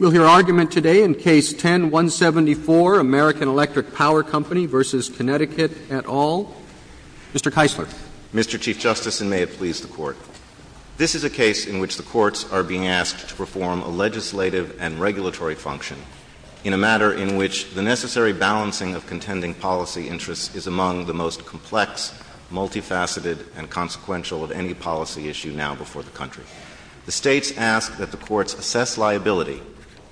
at all. Mr. Keisler. Mr. Chief Justice, and may it please the Court, this is a case in which the courts are being asked to perform a legislative and regulatory function in a matter in which the necessary balancing of contending policy interests is among the most complex, multifaceted, and consequential of any policy issue now before the country. The courts must assess liability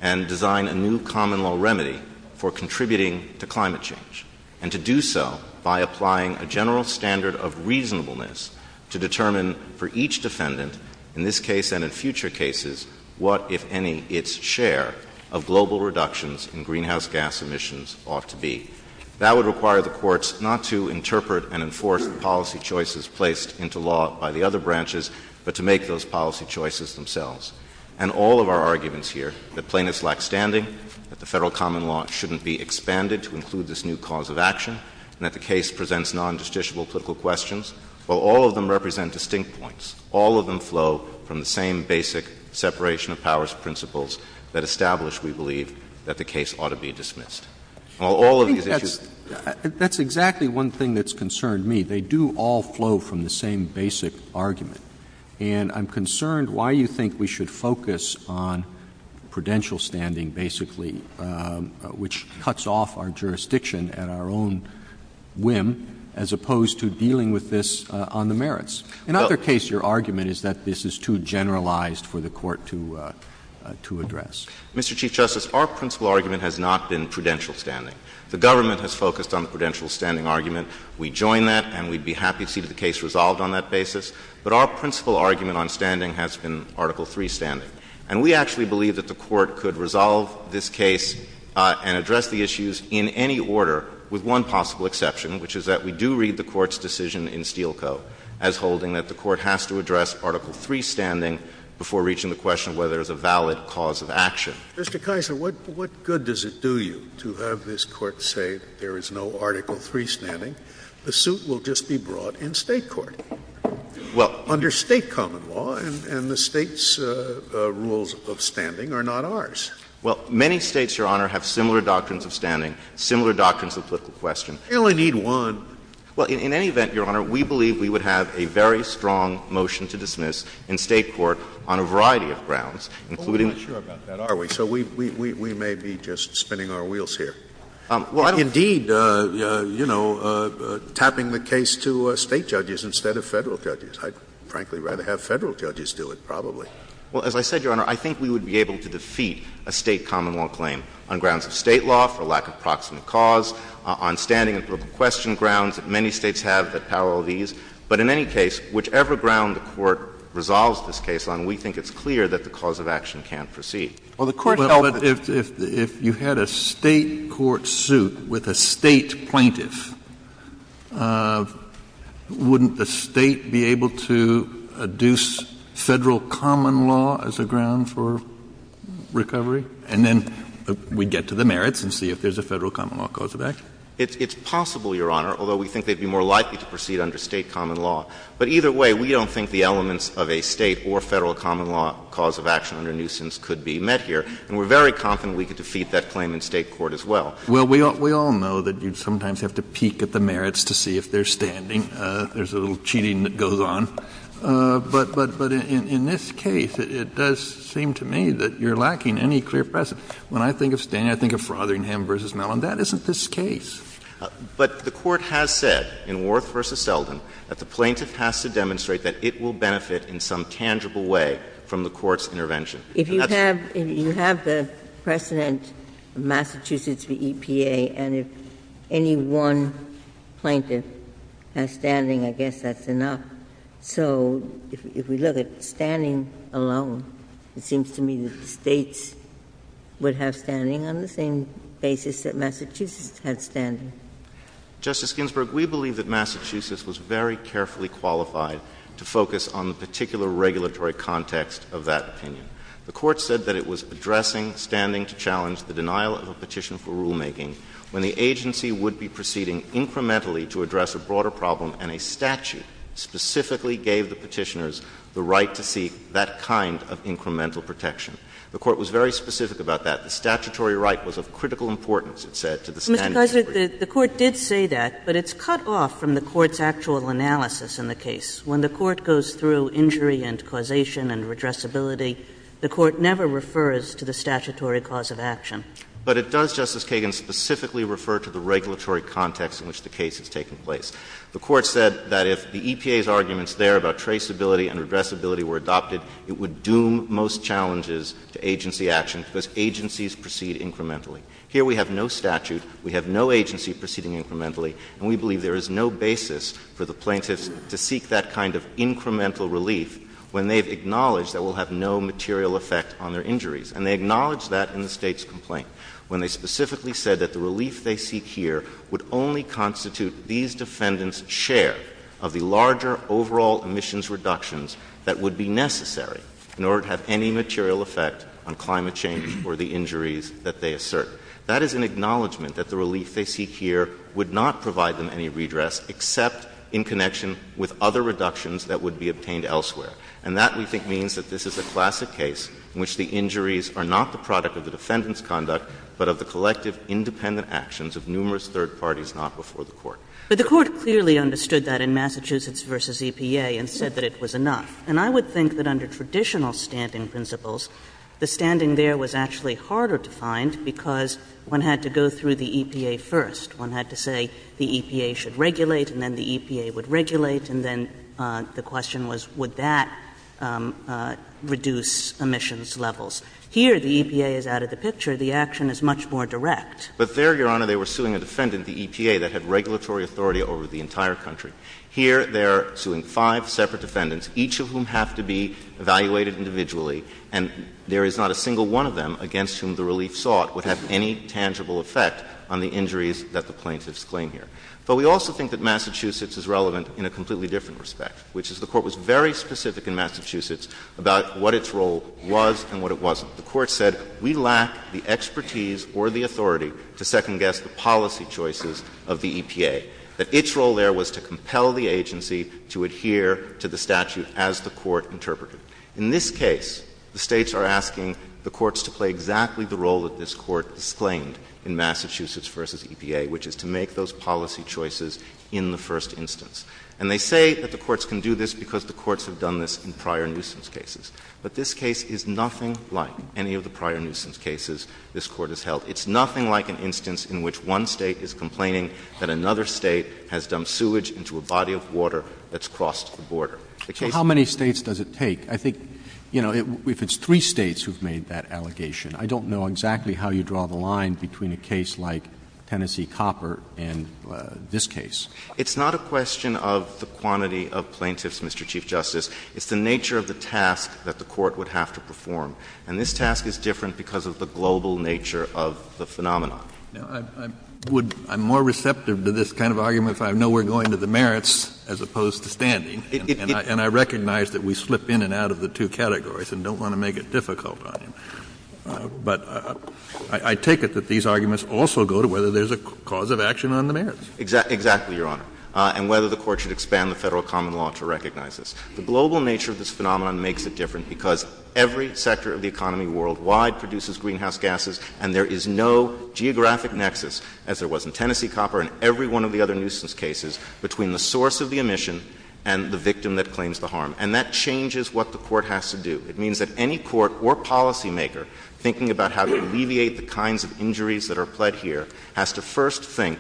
and design a new common law remedy for contributing to climate change, and to do so by applying a general standard of reasonableness to determine for each defendant, in this case and in future cases, what, if any, its share of global reductions in greenhouse gas emissions ought to be. That would require the courts not to interpret and enforce the policy choices placed into law by the other branches, but to make those policy choices themselves. And all of our arguments here, that plainness lacks standing, that the federal common law shouldn't be expanded to include this new cause of action, and that the case presents non-justiciable political questions, all of them represent distinct points. All of them flow from the same basic separation of powers principles that establish, we believe, that the case ought to be dismissed. All of these issues— I think that's exactly one thing that's concerned me. They do all flow from the same basic argument. And I'm concerned why you think we should focus on prudential standing, basically, which cuts off our jurisdiction at our own whim, as opposed to dealing with this on the merits. In either case, your argument is that this is too generalized for the court to address. Mr. Chief Justice, our principle argument has not been prudential standing. The government has focused on the prudential standing argument. We join that, and we'd be happy to see the case resolved on that basis. But our principle argument on standing has been Article III standing. And we actually believe that the Court could resolve this case and address the issues in any order, with one possible exception, which is that we do read the Court's decision in Steele Co. as holding that the Court has to address Article III standing before reaching the question of whether there's a valid cause of action. Mr. Keiser, what good does it do you to have this Court say there is no Article III standing? The suit will just be brought in State court, under State common law, and the State's rules of standing are not ours. Well, many States, your Honor, have similar doctrines of standing, similar doctrines of lifting questions. We only need one. Well, in any event, your Honor, we believe we would have a very strong motion to dismiss in State court on a variety of grounds, including— Well, we're not sure about that, are we? So we may be just spinning our wheels here. Well, indeed, you know, tapping the case to State judges instead of Federal judges. I'd frankly rather have Federal judges do it, probably. Well, as I said, your Honor, I think we would be able to defeat a State common law claim on grounds of State law, for lack of proximate cause, on standing before the question grounds that many States have that parallel these. But in any case, whichever ground the Court resolves this case on, we think it's clear that the cause of action can't proceed. Well, the Court— But if you had a State court suit with a State plaintiff, wouldn't the State be able to adduce Federal common law as a ground for recovery? And then we'd get to the merits and see if there's a Federal common law cause of action. It's possible, your Honor, although we think they'd be more likely to proceed under State common law. But either way, we don't think the elements of a State or Federal common law cause of action under nuisance could be met here. And we're very confident we could defeat that claim in State court as well. Well, we all know that you'd sometimes have to peek at the merits to see if they're standing. There's a little cheating that goes on. But in this case, it does seem to me that you're lacking any clear precedent. When I think of standing, I think of Frotheringham v. Mellon. That isn't this case. But the Court has said in Warth v. Selden that the plaintiff has to demonstrate that it will benefit in some tangible way from the Court's intervention. If you have the precedent, Massachusetts v. EPA, and if any one plaintiff has standing, I guess that's enough. So if we look at standing alone, it seems to me that the States would have standing on the same basis that Massachusetts had standing. Justice Ginsburg, we believe that Massachusetts was very carefully qualified to focus on the particular regulatory context of that opinion. The Court said that it was addressing standing to challenge the denial of a petition for rulemaking when the agency would be proceeding incrementally to address a broader problem, and a statute specifically gave the petitioners the right to seek that kind of incremental protection. The Court was very specific about that. The statutory right was of critical importance, it said, to the standing of the Supreme Court. Ms. Gosar, the Court did say that, but it's cut off from the Court's actual analysis in the case. When the Court goes through injury and causation and redressability, the Court never refers to the statutory clause of action. But it does, Justice Kagan, specifically refer to the regulatory context in which the case is taking place. The Court said that if the EPA's arguments there about traceability and redressability were adopted, it would doom most challenges to agency action because agencies proceed incrementally. Here we have no statute, we have no agency proceeding incrementally, and we believe there is no basis for the plaintiffs to seek that kind of incremental relief when they've acknowledged they will have no material effect on their injuries. And they acknowledged that in the State's complaint, when they specifically said that the relief they seek here would only constitute these defendants' share of the larger overall emissions reductions that would be necessary in order to have any material effect on climate change or the injuries that they assert, that is an acknowledgment that the relief they seek here would not provide them any redress except in connection with other reductions that would be obtained elsewhere. And that, we think, means that this is a classic case in which the injuries are not the product of the defendant's conduct but of the collective independent actions of numerous third parties not before the Court. But the Court clearly understood that in Massachusetts v. EPA and said that it was And I would think that under traditional standing principles, the standing there was actually harder to find because one had to go through the EPA first. One had to say the EPA should regulate, and then the EPA would regulate, and then the question was would that reduce emissions levels. Here the EPA is out of the picture. The action is much more direct. But there, Your Honor, they were suing a defendant at the EPA that had regulatory authority over the entire country. Here they are suing five separate defendants, each of whom have to be evaluated individually, and there is not a single one of them against whom the relief sought would have any tangible effect on the injuries that the plaintiffs claim here. But we also think that Massachusetts is relevant in a completely different respect, which is the Court was very specific in Massachusetts about what its role was and what it wasn't. The Court said we lack the expertise or the authority to second-guess the policy choices of the EPA, that its role there was to compel the agency to adhere to the statute as the Court interpreted. In this case, the States are asking the courts to play exactly the role that this Court has claimed in Massachusetts v. EPA, which is to make those policy choices in the first instance. And they say that the courts can do this because the courts have done this in prior nuisance cases. But this case is nothing like any of the prior nuisance cases this Court has held. It's nothing like an instance in which one State is complaining that another State has dumped sewage into a body of water that's crossed the border. The case — So how many States does it take? I think, you know, if it's three States who've made that allegation, I don't know exactly how you draw the line between a case like Tennessee Copper and this case. It's not a question of the quantity of plaintiffs, Mr. Chief Justice. It's the nature of the have to perform. And this task is different because of the global nature of the phenomenon. I would — I'm more receptive to this kind of argument if I know we're going to the merits as opposed to standing. And I recognize that we slip in and out of the two categories and don't want to make it difficult on you. But I take it that these arguments also go to whether there's a cause of action on the merits. Exactly, Your Honor, and whether the Court should expand the federal common law to recognize The global nature of this phenomenon makes it different because every sector of the economy worldwide produces greenhouse gases, and there is no geographic nexus, as there was in Tennessee Copper and every one of the other nuisance cases, between the source of the emission and the victim that claims the harm. And that changes what the Court has to do. It means that any court or policymaker thinking about how to alleviate the kinds of injuries that are pled here has to first think,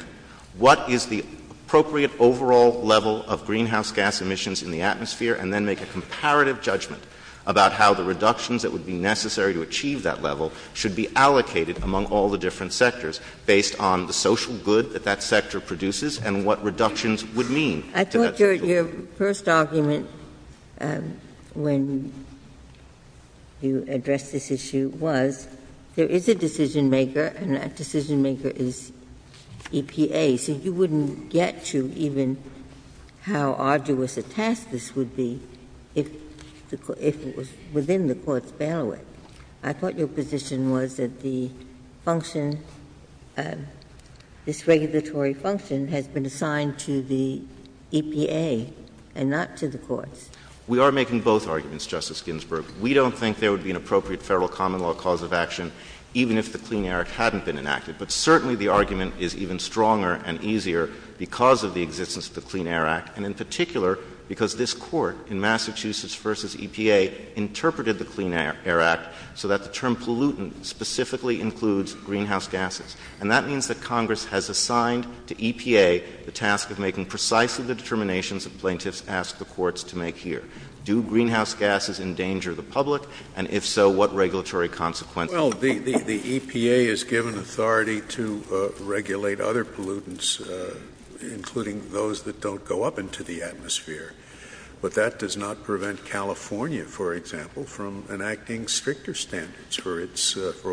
what is the appropriate overall level of greenhouse gas emissions in the atmosphere, and then make a comparative judgment about how the reductions that would be necessary to achieve that level should be allocated among all the different sectors based on the social good that that sector produces and what reductions would mean. I thought your first argument when you addressed this issue was there is a decision-maker, and that decision-maker is EPA. So you wouldn't get to even how arduous a task this would be if it was within the Court's barrel. I thought your position was that the function, this regulatory function, had been assigned to the EPA and not to the Court. We are making both arguments, Justice Ginsburg. We don't think there would be an appropriate federal common law cause of action even if the Clean Air Act hadn't been enacted. But certainly the argument is even stronger and easier because of the existence of the Clean Air Act, and in particular because this Court in Massachusetts v. EPA interpreted the Clean Air Act so that the term pollutant specifically includes greenhouse gases. And that means that Congress has assigned to EPA the task of making precisely the determinations that plaintiffs ask the courts to make here. Do greenhouse gases endanger the public? And if so, what regulatory consequences? Well, the EPA is given authority to regulate other pollutants, including those that don't go up into the atmosphere. But that does not prevent California, for example, from enacting stricter standards for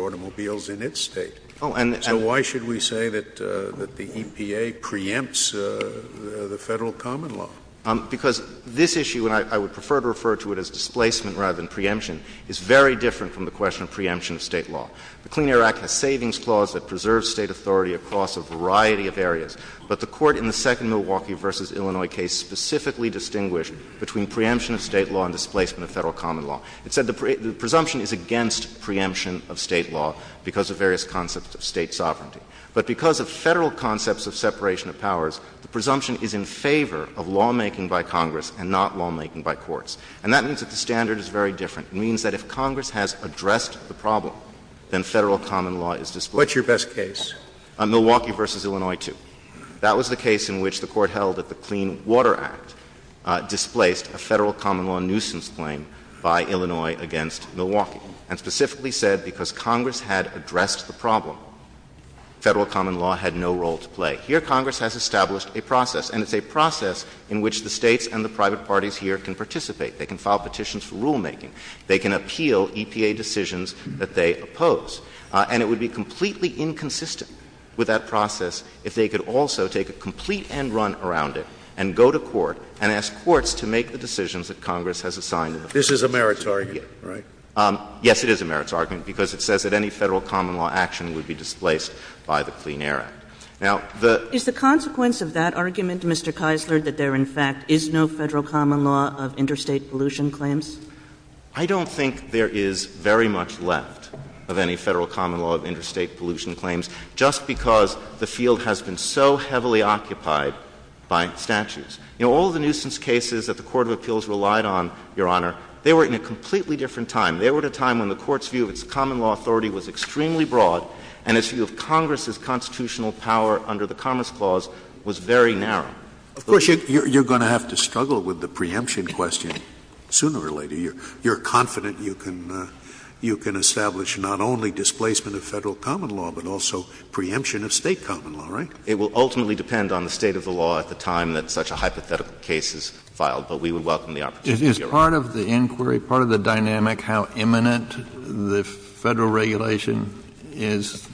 automobiles in its state. So why should we say that the EPA preempts the federal common law? Because this issue, and I would prefer to refer to it as displacement rather than preemption, is very different from the question of preemption of State law. The Clean Air Act has savings clause that preserves State authority across a variety of areas. But the Court in the second Milwaukee v. Illinois case specifically distinguished between preemption of State law and displacement of federal common law. It said the presumption is against preemption of State law because of various concepts of State sovereignty. But because of Federal concepts of separation of powers, the presumption is in favor of lawmaking by Congress and not lawmaking by courts. And that means that the standard is very different. It means that if Congress has addressed the problem, then federal common law is displaced. What's your best case? Milwaukee v. Illinois 2. That was the case in which the Court held that the Clean Water Act displaced a federal common law nuisance claim by Illinois against Milwaukee, and specifically said because Congress had addressed the problem, federal common law had no role to play. Here Congress has established a process, and it's a process in which the States and the private parties here can participate. They can file petitions for rulemaking. They can appeal EPA decisions that they oppose. And it would be completely inconsistent with that process if they could also take a complete end run around it and go to court and ask courts to make the decisions that Congress has assigned them. This is a meritorious case, right? Yes, it is a meritorious argument, because it says that any federal common law action would be displaced by the Clean Air Act. Now, the — Is the consequence of that argument, Mr. Keisler, that there, in fact, is no federal common law of interstate pollution claims? I don't think there is very much left of any federal common law of interstate pollution claims, just because the field has been so heavily occupied by statutes. You know, all the nuisance cases that the Court of Appeals relied on, Your Honor, they were in a completely different time. They were at a time when the Court's view of its common law authority was extremely broad, and its view of Congress's constitutional power under the Commerce Clause was very narrow. Of course, you're going to have to struggle with the preemption question sooner or later. You're confident you can establish not only displacement of federal common law, but also preemption of state common law, right? It will ultimately depend on the state of the law at the time that such a hypothetical case is filed, but we would welcome the opportunity, Your Honor. Is part of the inquiry, part of the dynamic, how imminent the federal regulation is?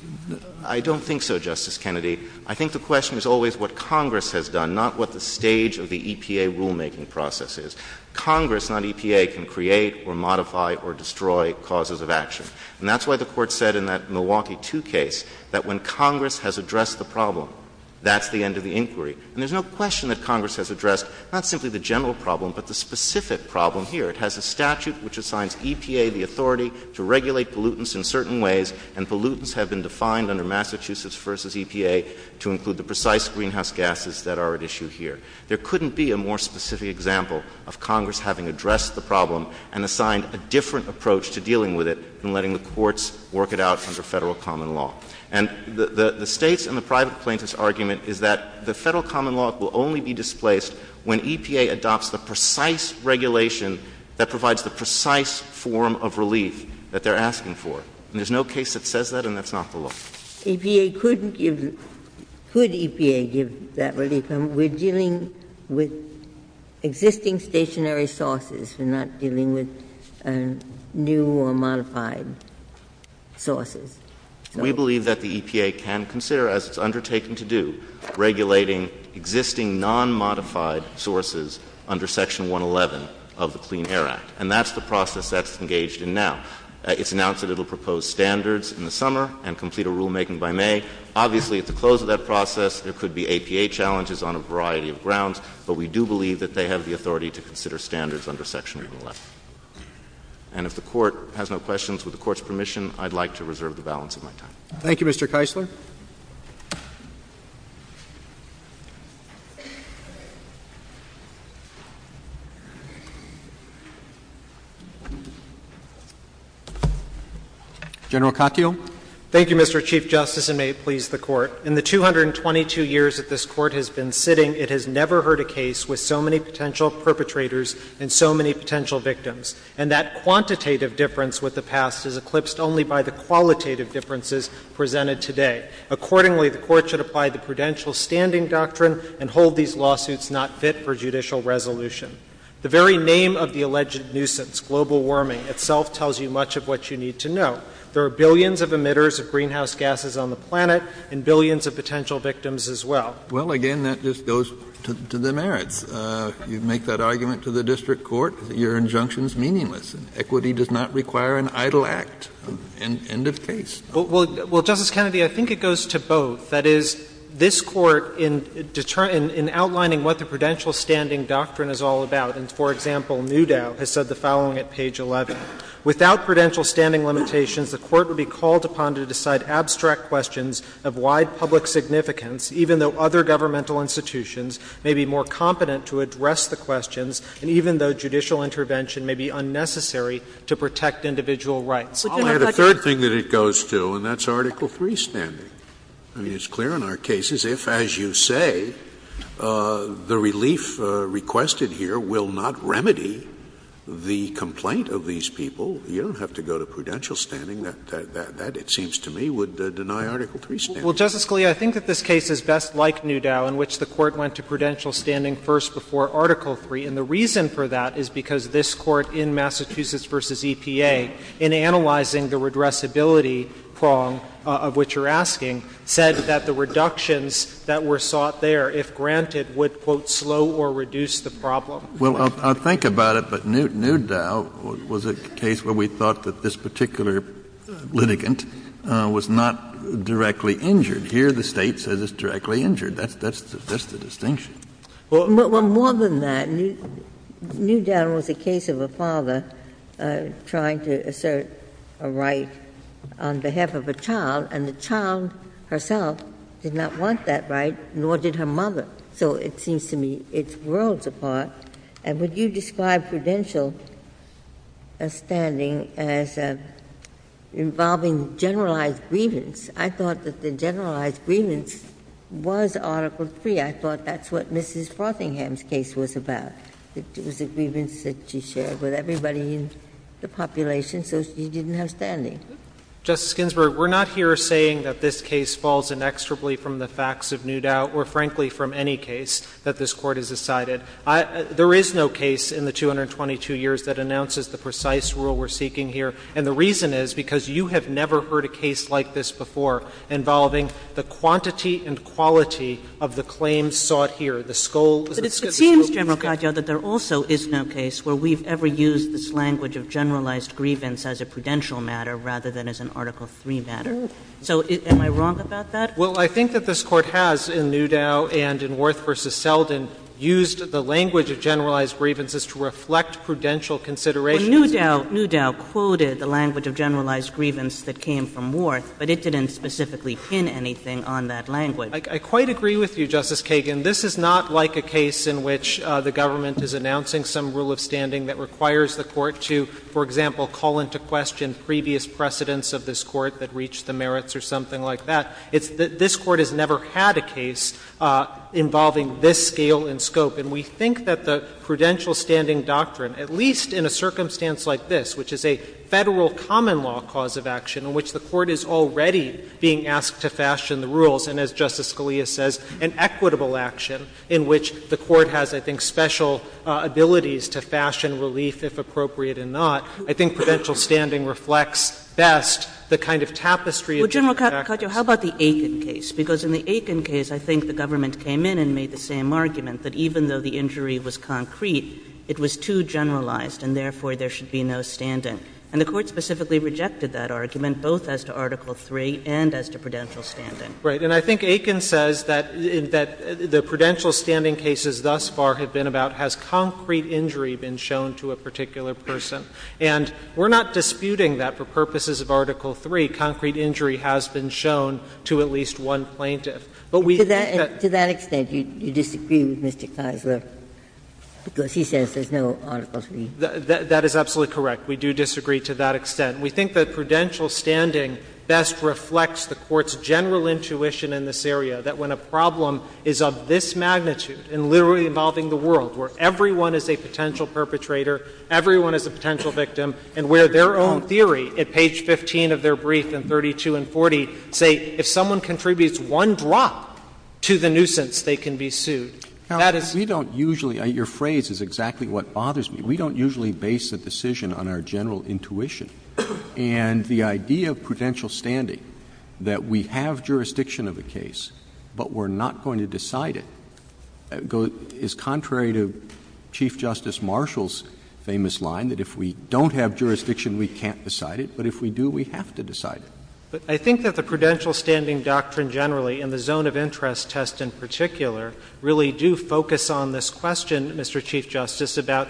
I don't think so, Justice Kennedy. I think the question is always what Congress has done, not what the stage of the EPA rulemaking process is. Congress, not EPA, can create or modify or destroy causes of action. And that's why the Court said in that Milwaukee 2 case that when Congress has addressed the problem, that's the end of the inquiry. And there's no question that Congress has addressed not simply the general problem, but the specific problem here. It has a statute which assigns EPA the authority to regulate pollutants in certain ways, and pollutants have been defined under Massachusetts v. EPA to include the precise greenhouse gases that are at issue here. There couldn't be a more specific example of Congress having addressed the problem and assigned a different approach to dealing with it than letting the courts work it out under federal common law. And the State's and the private plaintiff's argument is that the federal common law will only be displaced when EPA adopts the precise regulation that provides the precise form of relief that they're asking for. And there's no case that says that, and that's not the law. If you couldn't give — could EPA give that relief, we're dealing with existing stationary sources and not dealing with new or modified sources. We believe that the EPA can consider, as it's undertaken to do, regulating existing non-modified sources under Section 111 of the Clean Air Act. And that's the process that's engaged in now. It's announced that it will propose standards in the summer and complete a rulemaking by May. Obviously, at the close of that process, there could be EPA challenges on a variety of grounds, but we do believe that they have the authority to consider standards under Section 111. And if the Court has no questions, with the Court's permission, I'd like to reserve the balance of my time. Thank you, Mr. Keisler. General Katyal. Thank you, Mr. Chief Justice, and may it please the Court. In the 222 years that this Court has been sitting, it has never heard a case with so many potential perpetrators and so many potential victims. And that quantitative difference with the past is eclipsed only by the qualitative differences presented today. Accordingly, the Court should apply the prudential standing doctrine and hold these lawsuits not fit for judicial resolution. The very name of the alleged nuisance, global warming, itself tells you much of what you need to know. There are billions of emitters of greenhouse gases on the planet and billions of potential victims as well. Well, again, that just goes to the merits. If you make that argument to the district court, your injunction is meaningless. Equity does not require an idle act. End of case. Well, Justice Kennedy, I think it goes to both. That is, this Court, in outlining what the prudential standing doctrine is all about, and, for example, Newdow has said the following at page 11, without prudential standing limitations, the Court would be called upon to decide abstract questions of wide public significance, even though other governmental institutions may be more competent to address the questions, and even though judicial intervention may be unnecessary to protect individual rights. I'll add a third thing that it goes to, and that's Article III standing. I mean, it's clear in our cases if, as you say, the relief requested here will not remedy the complaint of these people, you don't have to go to prudential standing. That, it seems to me, would deny Article III standing. Well, Justice Scalia, I think that this case is best like Newdow, in which the Court went to prudential standing first before Article III, and the reason for that is because this Court, in Massachusetts v. EPA, in analyzing the redressability prong of what you're asking, said that the reductions that were sought there, if granted, would, quote, slow or reduce the problem. Well, I'll think about it, but Newdow was a case where we thought that this particular litigant was not directly injured. Here, the State says it's directly injured. That's the distinction. Well, more than that, Newdow was a case of a father trying to assert a right on behalf of a child, and the child herself did not want that right, nor did her mother. So it seems to me it's worlds apart. And when you describe prudential standing as involving generalized grievance, I thought that the generalized grievance was Article III. I thought that's what Mrs. Frothingham's case was about. It was a grievance that she shared with everybody in the population, so she didn't have standing. Justice Ginsburg, we're not here saying that this case falls inexorably from the facts of Newdow or, frankly, from any case that this Court has decided. There is no case in the 222 years that announces the precise rule we're seeking here, and the reason is because you have never heard a case like this before involving the quantity and quality of the claims sought here, the skull of the prosecutor. But it seems, General Cardio, that there also is no case where we've ever used this language of generalized grievance as a prudential matter rather than as an Article III matter. So am I wrong about that? Well, I think that this Court has, in Newdow and in Worth v. Selden, used the language of generalized grievances to reflect prudential consideration. Newdow quoted the language of generalized grievance that came from Worth, but it didn't specifically pin anything on that language. I quite agree with you, Justice Kagan. This is not like a case in which the government is announcing some rule of standing that requires the Court to, for example, call into question previous precedents of this Court that reached the merits or something like that. This Court has never had a case involving this scale and scope. And we think that the prudential standing doctrine, at least in a circumstance like this, which is a Federal common law cause of action in which the Court is already being asked to fashion the rules, and as Justice Scalia says, an equitable action in which the Court has, I think, special abilities to fashion relief if appropriate and not, I think prudential standing reflects best the kind of tapestry of the practice. Well, General Cardio, how about the Aitken case? Because in the Aitken case, I think the government came in and made the same argument, that even though the injury was concrete, it was too generalized, and therefore there should be no standing. And the Court specifically rejected that argument, both as to Article III and as to prudential standing. Right. And I think Aitken says that the prudential standing cases thus far have been about has concrete injury been shown to a particular person. And we're not disputing that for purposes of Article III, concrete injury has been shown to at least one plaintiff. To that extent, you disagree with Mr. Keisler because he says there's no Article III. That is absolutely correct. We do disagree to that extent. We think that prudential standing best reflects the Court's general intuition in this area, that when a problem is of this magnitude and literally involving the world, where everyone is a potential perpetrator, everyone is a potential victim, and where their own theory at page 15 of the Court of Appeals is that they can be sued, they can be stopped, to the nuisance, they can be sued. Now, we don't usually, your phrase is exactly what bothers me, we don't usually base a decision on our general intuition. And the idea of prudential standing, that we have jurisdiction of a case, but we're not going to decide it, is contrary to Chief Justice Marshall's famous line, that if we don't have jurisdiction, we can't decide it, but if we do, we have to decide it. But I think that the prudential standing doctrine generally, and the zone of interest test in particular, really do focus on this question, Mr. Chief Justice, about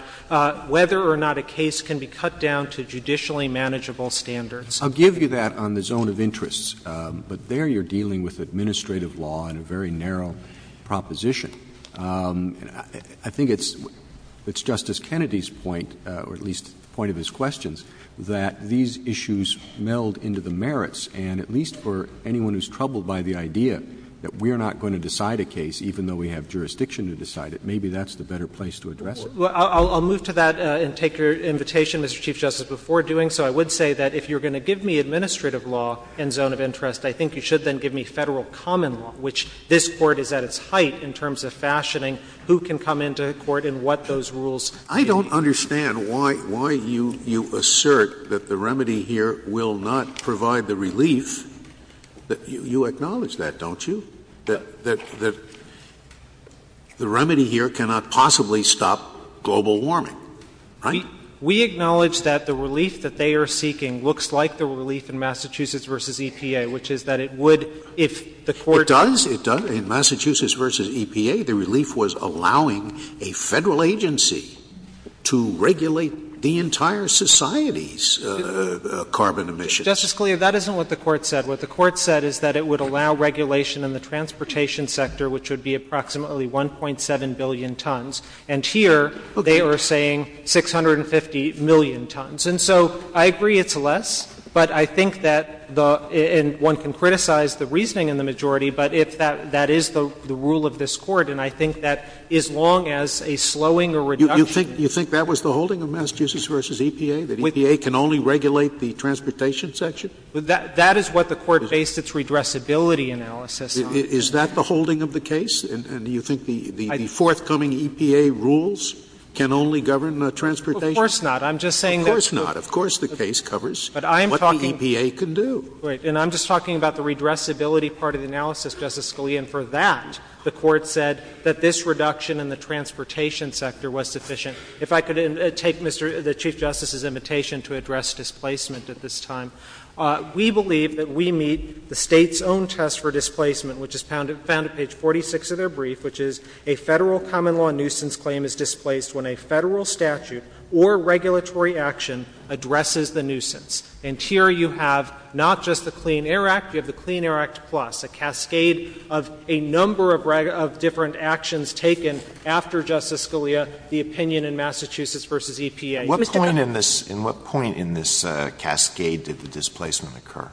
whether or not a case can be cut down to judicially manageable standards. I'll give you that on the zone of interest, but there you're dealing with administrative law and a very narrow proposition. I think it's Justice Kennedy's point, or at least point of his questions, that these issues meld into the merits, and at least for anyone who's troubled by the idea that we're not going to decide a case even though we have jurisdiction to decide it, maybe that's the better place to address it. Well, I'll move to that and take your invitation, Mr. Chief Justice, before doing so. I would say that if you're going to give me administrative law and zone of interest, I think you should then give me Federal common law, which this Court is at its height in terms of fashioning who can come into court and what those rules should be. I don't understand why you assert that the remedy here will not provide the relief. You acknowledge that, don't you? That the remedy here cannot possibly stop global warming, right? We acknowledge that the relief that they are seeking looks like the relief in Massachusetts v. EPA, which is that it would if the Court— It does. It does. In Massachusetts v. EPA, the relief was allowing a Federal agency to regulate the entire society's carbon emissions. Justice Scalia, that isn't what the Court said. What the Court said is that it would allow regulation in the transportation sector, which would be approximately 1.7 billion tons, and here they are saying 650 million tons. And so I agree it's less, but I think that one can criticize the reasoning in the majority, but that is the rule of this Court, and I think that as long as a slowing or reduction— You think that was the holding of Massachusetts v. EPA, that EPA can only regulate the transportation section? That is what the Court based its redressability analysis on. Is that the holding of the case? And do you think the forthcoming EPA rules can only govern transportation? Of course not. I'm just saying that— Of course not. Of course the case covers what the EPA can do. Right. And I'm just talking about the redressability part of the analysis, Justice Scalia, and for that, the Court said that this reduction in the transportation sector was sufficient. If I could take the Chief Justice's invitation to address displacement at this time. We believe that we meet the State's own test for displacement, which is found at page 46 of their brief, which is a Federal common law nuisance claim is displaced when a Federal statute or regulatory action addresses the nuisance. And here you have not just the Clean Air Act, you have the Clean Air Act plus, a cascade of a number of different actions taken after Justice Scalia, the opinion in Massachusetts v. EPA. At what point in this cascade did the displacement occur?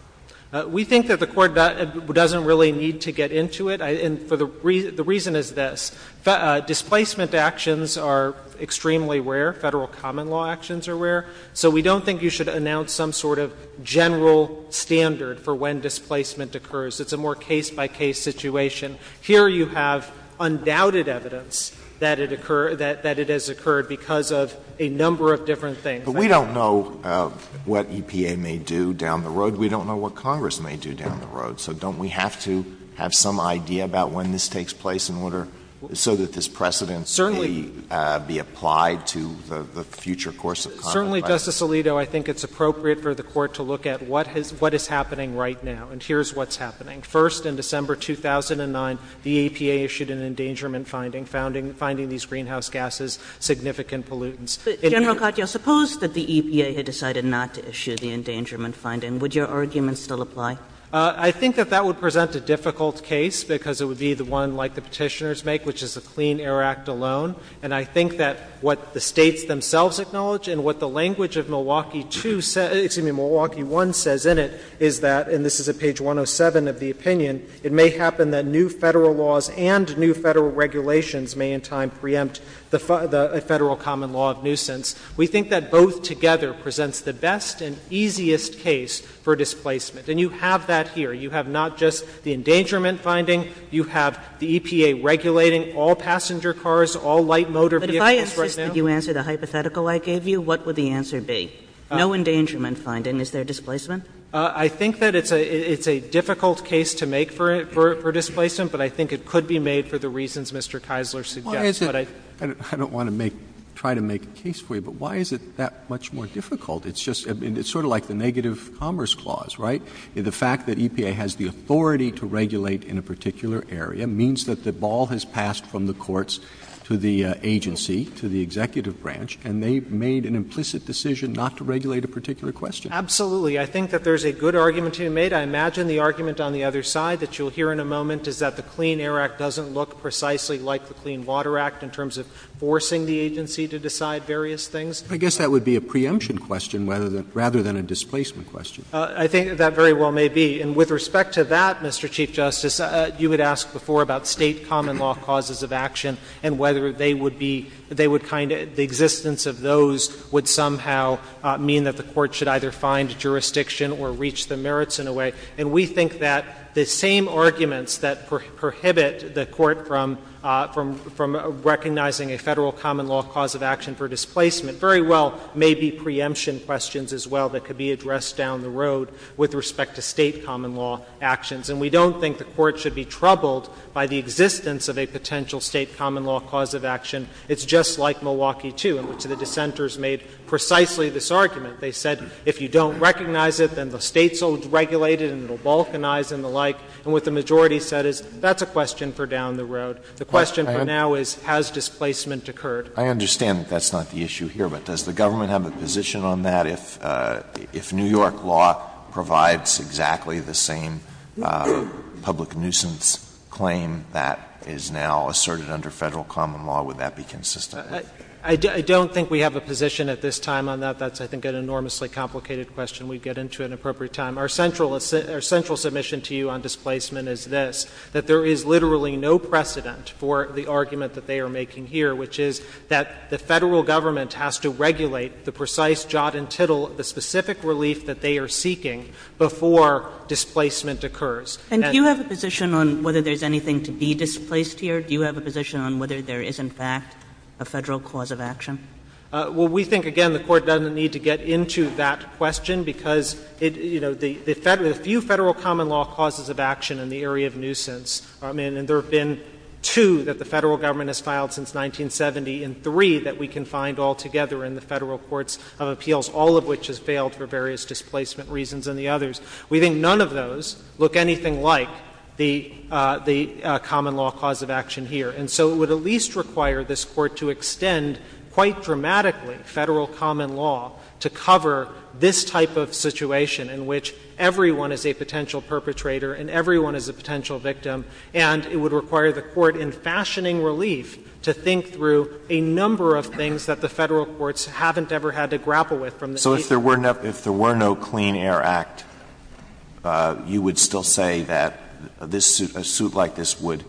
We think that the Court doesn't really need to get into it, and the reason is this. Displacement actions are extremely rare. Federal common law actions are rare. So we don't think you should announce some sort of general standard for when displacement occurs. It's a more case-by-case situation. Here you have undoubted evidence that it occurred, that it has occurred because of a number of different things. But we don't know what EPA may do down the road. We don't know what Congress may do down the road. So don't we have to have some idea about when this takes place in order so that this precedence may be applied to the future course of Congress? Certainly, Justice Alito, I think it's appropriate for the Court to look at what is happening right now, and here's what's happening. First, in December 2009, the EPA issued an endangerment finding, finding these greenhouse gases significant pollutants. General Katyal, suppose that the EPA had decided not to issue the endangerment finding. Would your argument still apply? I think that that would present a difficult case because it would be the one like the Petitioners make, which is the Clean Air Act alone. And I think that what the language of Milwaukee 2 says — excuse me, Milwaukee 1 says in it is that — and this is at page 107 of the opinion — it may happen that new Federal laws and new Federal regulations may in time preempt the Federal common law of nuisance. We think that both together presents the best and easiest case for displacement. And you have that here. You have not just the endangerment finding. You have the EPA regulating all passenger cars, all light motor vehicles, for example. You answered a hypothetical I gave you. What would the answer be? No endangerment finding. Is there displacement? I think that it's a difficult case to make for displacement, but I think it could be made for the reasons Mr. Keisler suggests. Why is it — I don't want to make — try to make a case for you, but why is it that much more difficult? It's just — I mean, it's sort of like the negative commerce clause, right? The fact that EPA has the authority to regulate in a particular area means that the ball has passed from the courts to the agency, to the executive branch, and they've made an implicit decision not to regulate a particular question. Absolutely. I think that there's a good argument to be made. I imagine the argument on the other side that you'll hear in a moment is that the Clean Air Act doesn't look precisely like the Clean Water Act in terms of forcing the agency to decide various things. I guess that would be a preemption question rather than a displacement question. I think that very well may be. And with respect to that, Mr. Chief Justice, you had asked before about State common law causes of action and whether they would be — they would kind of — the existence of those would somehow mean that the Court should either find jurisdiction or reach the merits in a way. And we think that the same arguments that prohibit the Court from recognizing a Federal common law cause of action for displacement very well may be preemption questions as well that could be addressed down the road with respect to State common law actions. And we don't think the Court should be troubled by the existence of a potential State common law cause of action. It's just like Milwaukee, too, in which the dissenters made precisely this argument. They said, if you don't recognize it, then the States will regulate it and it will balkanize and the like. And what the majority said is, that's a question for down the road. The question for now is, has displacement occurred? I understand that that's not the issue here, but does the government have a position on that? If New York law provides exactly the same public nuisance claim that is now asserted under Federal common law, would that be consistent? I don't think we have a position at this time on that. That's, I think, an enormously complicated question we'd get into at an appropriate time. Our central — our central submission to you on displacement is this, that there is literally no precedent for the argument that they are making here, which is that the Federal government has to regulate the precise jot and tittle of the specific relief that they are seeking before displacement occurs. And do you have a position on whether there's anything to be displaced here? Do you have a position on whether there is, in fact, a Federal cause of action? Well, we think, again, the Court doesn't need to get into that question because, you know, the — there's few Federal common law causes of action in the area of nuisance. I mean, and there have been two that the Federal government has filed since 1970, and three that we can find altogether in the Federal courts of appeals, all of which has failed for various displacement reasons and the others. We think none of those look anything like the common law cause of action here. And so it would at least require this Court to extend, quite dramatically, Federal common law to cover this type of situation in which everyone is a potential perpetrator and everyone is a potential victim, and it would require the Court, in fashioning relief, to think through a number of things that the Federal courts haven't ever had to grapple with from the — So if there were no — if there were no Clean Air Act, you would still say that this suit — a suit like this would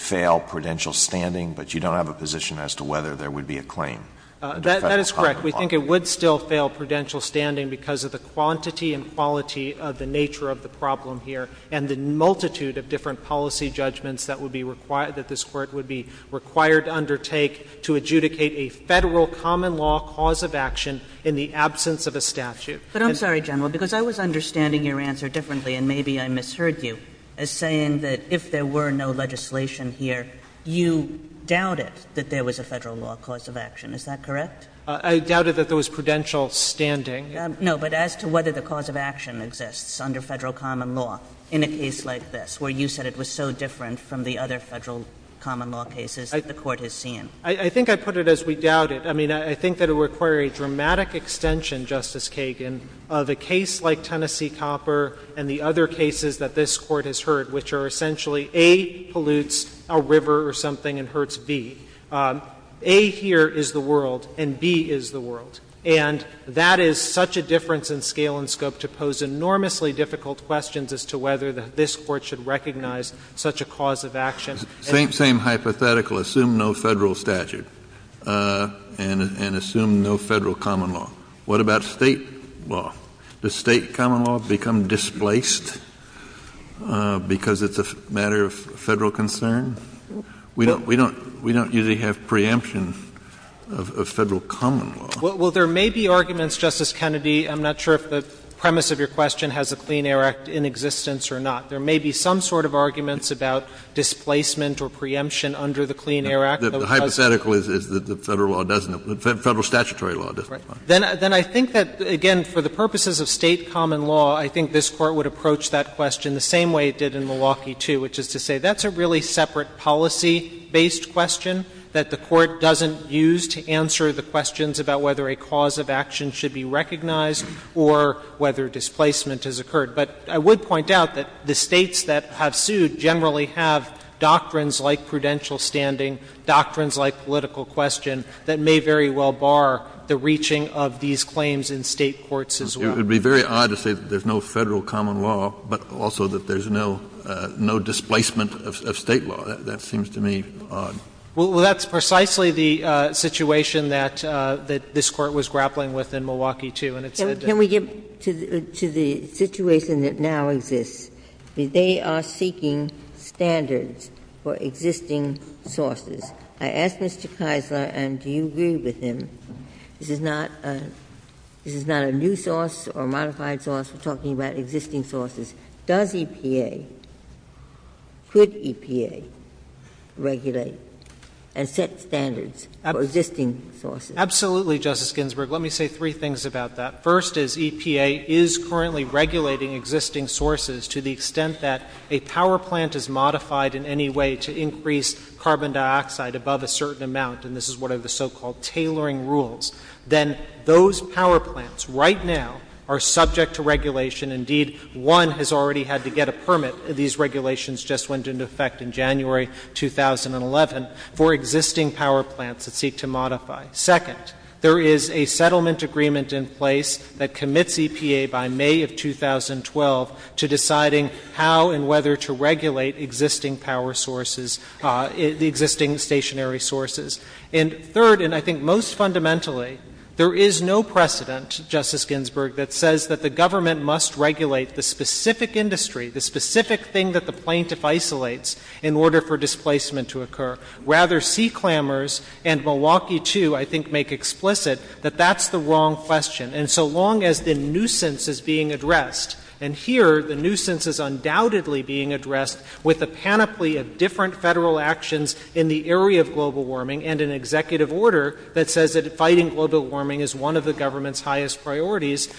fail prudential standing, but you don't have a position as to whether there would be a claim under Federal common law? That is correct. We think it would still fail prudential standing because of the quantity and quality of the nature of the problem here and the multitude of different policy judgments that would be required — that this Court would be required to undertake to adjudicate a Federal common law cause of action in the absence of a statute. But I'm sorry, General, because I was understanding your answer differently, and maybe I misheard you, as saying that if there were no legislation here, you doubted that there was a Federal law cause of action. Is that correct? I doubted that there was prudential standing. No, but as to whether the cause of action exists under Federal common law in a case like this, where you said it was so different from the other Federal common law cases the Court has seen? I think I put it as we doubt it. I mean, I think that it would require a dramatic extension, Justice Kagan. The case like Tennessee Copper and the other cases that this Court has heard, which are essentially A pollutes a river or something and hurts B, A here is the world and B is the world. And that is such a difference in scale and scope to pose enormously difficult questions as to whether this Court should recognize such a cause of action. It's the same hypothetical. Assume no Federal statute and assume no Federal common law. What about State law? Does State common law become displaced because it's a matter of Federal concern? We don't usually have preemption of Federal common law. Well, there may be arguments, Justice Kennedy. I'm not sure if the premise of your question has a Clean Air Act in existence or not. There may be some sort of arguments about displacement or preemption under the Clean Air Act. Hypothetically, the Federal law doesn't. Federal statutory law doesn't. Then I think that, again, for the purposes of State common law, I think this Court would approach that question the same way it did in Milwaukee, too, which is to say that's a really separate policy-based question that the Court doesn't use to answer the questions about whether a cause of action should be recognized or whether displacement has occurred. But I would point out that the States that have sued generally have doctrines like prudential standing, doctrines like political question that may very well bar the reaching of these claims in State courts as well. It would be very odd to say that there's no Federal common law, but also that there's no displacement of State law. That seems to me odd. Well, that's precisely the situation that this Court was grappling with in Milwaukee, too. Can we get to the situation that now exists? They are seeking standards for existing sources. I asked Mr. Keiser, and do you agree with him, this is not a new source or a modified source, talking about existing sources. Does EPA, could EPA regulate and set standards for existing sources? Absolutely, Justice Ginsburg. Let me say three things about that. First is EPA is currently regulating existing sources to the extent that a power plant is modified in any way to increase carbon dioxide above a certain amount, and this is one of the so-called tailoring rules. Then those power plants right now are subject to regulation. Indeed, one has already had to get a permit. These regulations just went into effect in January 2011 for existing power plants that seek to modify. Second, there is a settlement agreement in place that commits EPA by May of 2012 to deciding how and whether to regulate existing power sources, the existing stationary sources. And third, and I think most fundamentally, there is no precedent, Justice Ginsburg, that says that the government must regulate the specific industry, the specific thing that the plaintiff isolates, in order for displacement to occur. Rather, sea clamors and Milwaukee 2, I think, make explicit that that's the wrong question. And so long as the nuisance is being addressed, and here the nuisance is undoubtedly being addressed with a panoply of different federal actions in the area of global warming and an executive order that says that fighting global warming is one of the government's highest priorities,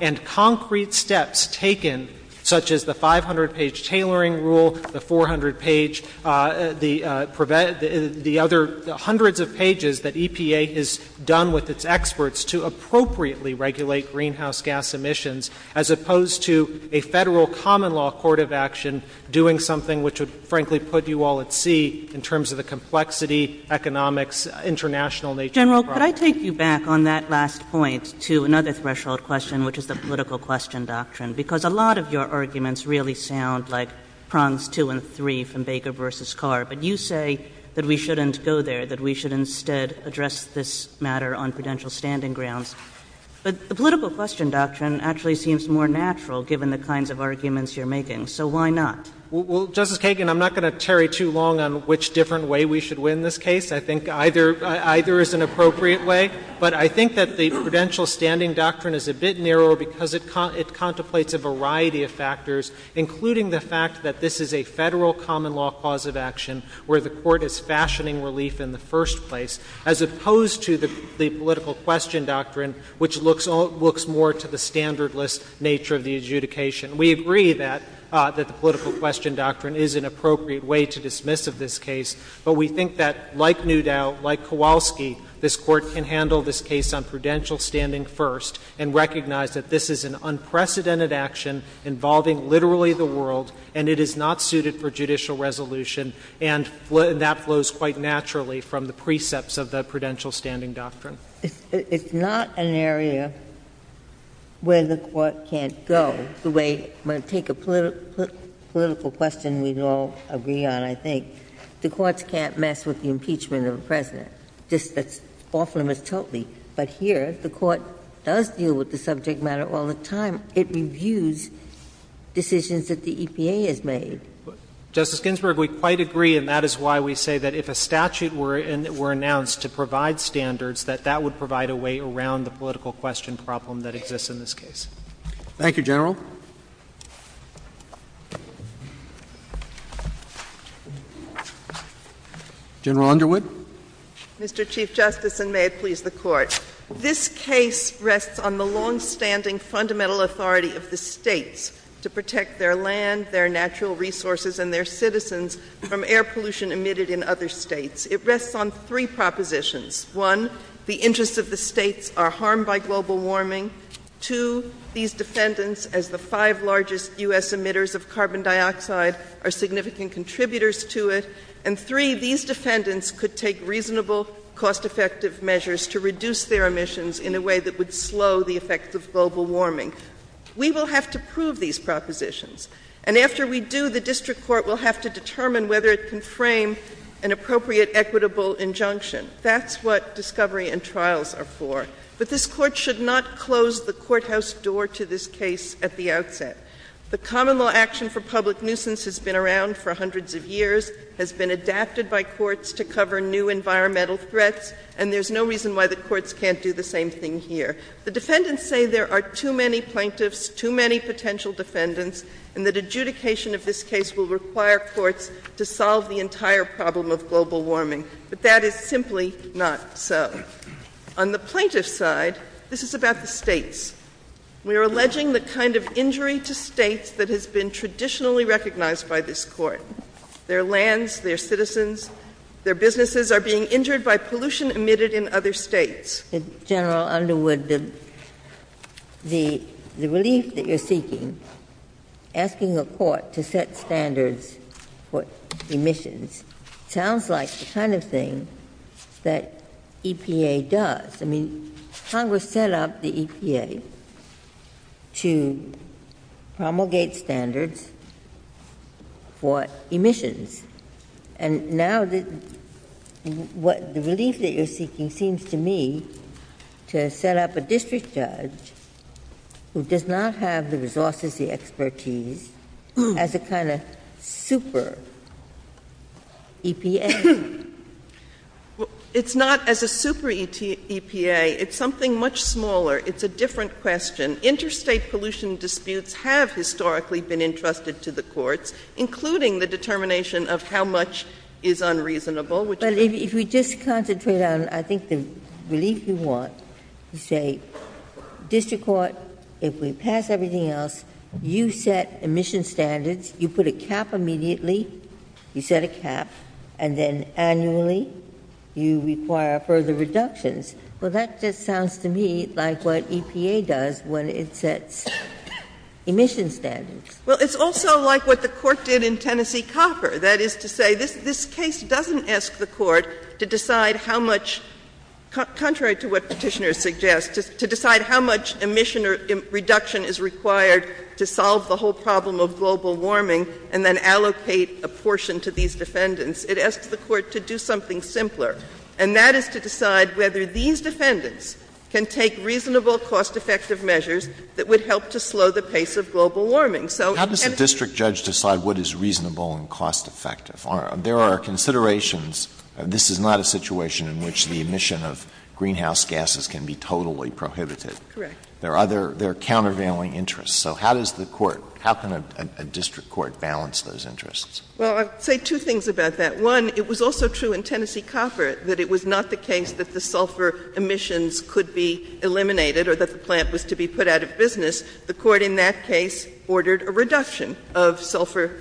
and concrete steps taken, such as the 500-page tailoring rule, the 400-page, the other hundreds of pages that EPA has done with its experts to appropriately regulate greenhouse gas emissions, as opposed to a federal common law court of action doing something which would, frankly, put you all at sea in terms of the complexity, economics, international nature of the problem. General, could I take you back on that last point to another threshold question, which is the political question doctrine? Because a lot of your arguments really sound like prongs two and three from Baker v. Carr. But you say that we shouldn't go there, that we should instead address this matter on prudential standing grounds. But the political question doctrine actually seems more natural, given the kinds of arguments you're making. So why not? Well, Justice Kagan, I'm not going to tarry too long on which different way we should win this case. I think either is an appropriate way. But I think that the prudential standing doctrine is a bit narrow because it contemplates a variety of factors, including the fact that this is a federal common law cause of action where the Court is fashioning relief in the first place, as opposed to the political question doctrine, which looks more to the standardless nature of the adjudication. We agree that the political question doctrine is an appropriate way to dismiss this case. But we think that, like Newdow, like Kowalski, this Court can handle this case on prudential standing first and recognize that this is an unprecedented action involving literally the world, and it is not suited for judicial resolution. And that flows quite naturally from the precepts of the prudential standing doctrine. It's not an area where the Court can't go. The way, when I take a political question we all agree on, I think, the Courts can't mess with the impeachment of a president. This is off-limits totally. But here, if the Court does deal with the subject matter all the time, it reviews decisions that the EPA has made. Justice Ginsburg, we quite agree, and that is why we say that if a statute were announced to provide standards, that that would provide a way around the political question problem that exists in this case. Thank you, General. General Underwood. Mr. Chief Justice, and may it please the Court, this case rests on the longstanding fundamental authority of the states to protect their land, their natural resources, and their citizens from air pollution emitted in other states. It rests on three propositions. One, the interests of the states are harmed by global warming. Two, these defendants, as the five largest U.S. emitters of carbon dioxide, are significant contributors to it. And three, these defendants could take reasonable, cost-effective measures to reduce their emissions in a way that would slow the effects of global warming. We will have to prove these propositions. And after we do, the District Court will have to determine whether it can frame an appropriate equitable injunction. That's what discovery and trials are for. But this Court should not close the courthouse door to this case at the outset. The common law action for public nuisance has been around for hundreds of years, has been adapted by courts to cover new environmental threats, and there's no reason why the courts can't do the same thing here. The defendants say there are too many plaintiffs, too many potential defendants, and that adjudication of this case will require courts to solve the entire problem of global warming. But that is simply not so. On the plaintiff's side, this is about the states. We are alleging the kind of injury to states that has been traditionally recognized by this Court. Their lands, their citizens, their businesses are being injured by pollution emitted in other states. General Underwood, the relief that you're seeking, asking the Court to set standards for emissions, sounds like the kind of thing that EPA does. I mean, Congress set up the EPA to promulgate standards for emissions. And now the relief that you're seeking seems to me to set up a district judge who does not have the resources, the expertise, as a kind of super EPA. It's not as a super EPA. It's something much smaller. It's a different question. Interstate pollution disputes have historically been entrusted to the courts, including the determination of how much is unreasonable, which is... But if we just concentrate on, I think, the relief you want to say, district court, if we pass everything else, you set emission standards, you put a cap immediately, you set a cap, and then annually you require further reductions. Well, that just sounds to me like what EPA does when it sets emission standards. Well, it's also like what the Court did in Tennessee Copper. That is to say, this case doesn't ask the Court to decide how much, contrary to what Petitioner suggests, to decide how much emission reduction is required to solve the whole problem of global warming and then allocate a portion to these defendants. It asks the Court to do something simpler. And that is to decide whether these defendants can take reasonable, cost-effective measures that would help to slow the pace of global warming. How does the district judge decide what is reasonable and cost-effective? There are considerations. This is not a situation in which the emission of greenhouse gases can be totally prohibited. Correct. There are countervailing interests. So how does the Court, how can a district court balance those interests? Well, I'll say two things about that. One, it was also true in Tennessee Copper that it was not the case that the sulfur emissions could be eliminated or that the plant was to be put out of business. The Court in that case ordered a reduction of sulfur,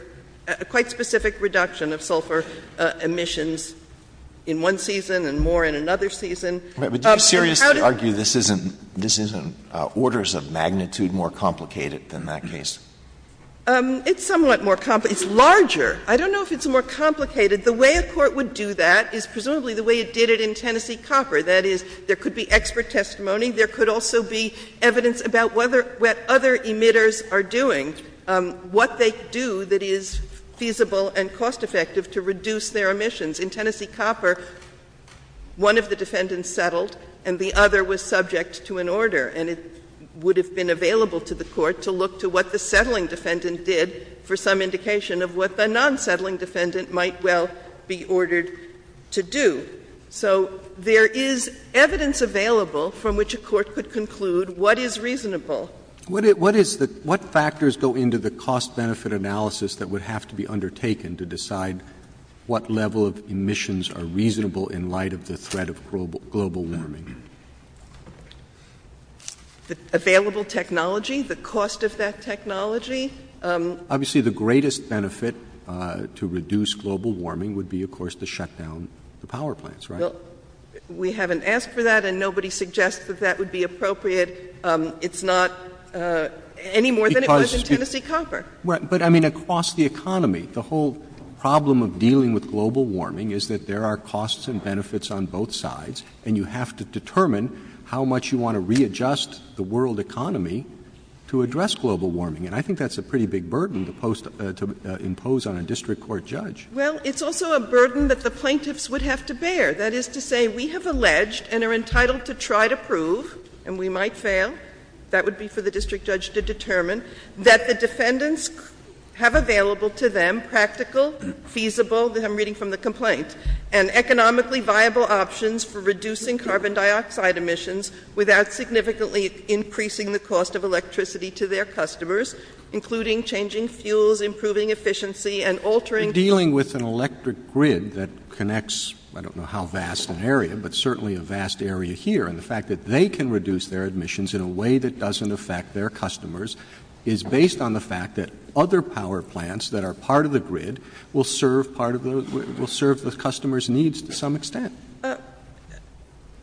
a quite specific reduction of sulfur emissions in one season and more in another season. Would you seriously argue this isn't orders of magnitude more complicated than that case? It's somewhat more complicated. It's larger. I don't know if it's more complicated. The way a court would do that is presumably the way it did it in Tennessee Copper. That is, there could be expert testimony. There could also be evidence about what other emitters are doing, what they do that is feasible and cost-effective to reduce their emissions. In Tennessee Copper, one of the defendants settled and the other was subject to an order. And it would have been available to the Court to look to what the settling defendant did for some indication of what the non-settling defendant might well be ordered to do. So there is evidence available from which a court could conclude what is reasonable. What factors go into the cost-benefit analysis that would have to be undertaken to decide what level of emissions are reasonable in light of the threat of global warming? Available technology, the cost of that technology. Obviously the greatest benefit to reduce global warming would be, of course, to shut down the power plants, right? We haven't asked for that, and nobody suggests that that would be appropriate. It's not any more than it was in Tennessee Copper. But, I mean, across the economy, the whole problem of dealing with global warming is that there are costs and benefits on both sides, and you have to determine how much you want to readjust the world economy to address global warming. And I think that's a pretty big burden to impose on a district court judge. Well, it's also a burden that the plaintiffs would have to bear. That is to say, we have alleged and are entitled to try to prove, and we might fail, that would be for the district judge to determine, that the defendants have available to them practical, feasible, and I'm reading from the complaint, and economically viable options for reducing carbon dioxide emissions without significantly increasing the cost of electricity to their customers, including changing fuels, improving efficiency, and altering... Dealing with an electric grid that connects, I don't know how vast an area, but certainly a vast area here, and the fact that they can reduce their emissions in a way that doesn't affect their customers is based on the fact that other power plants that are part of the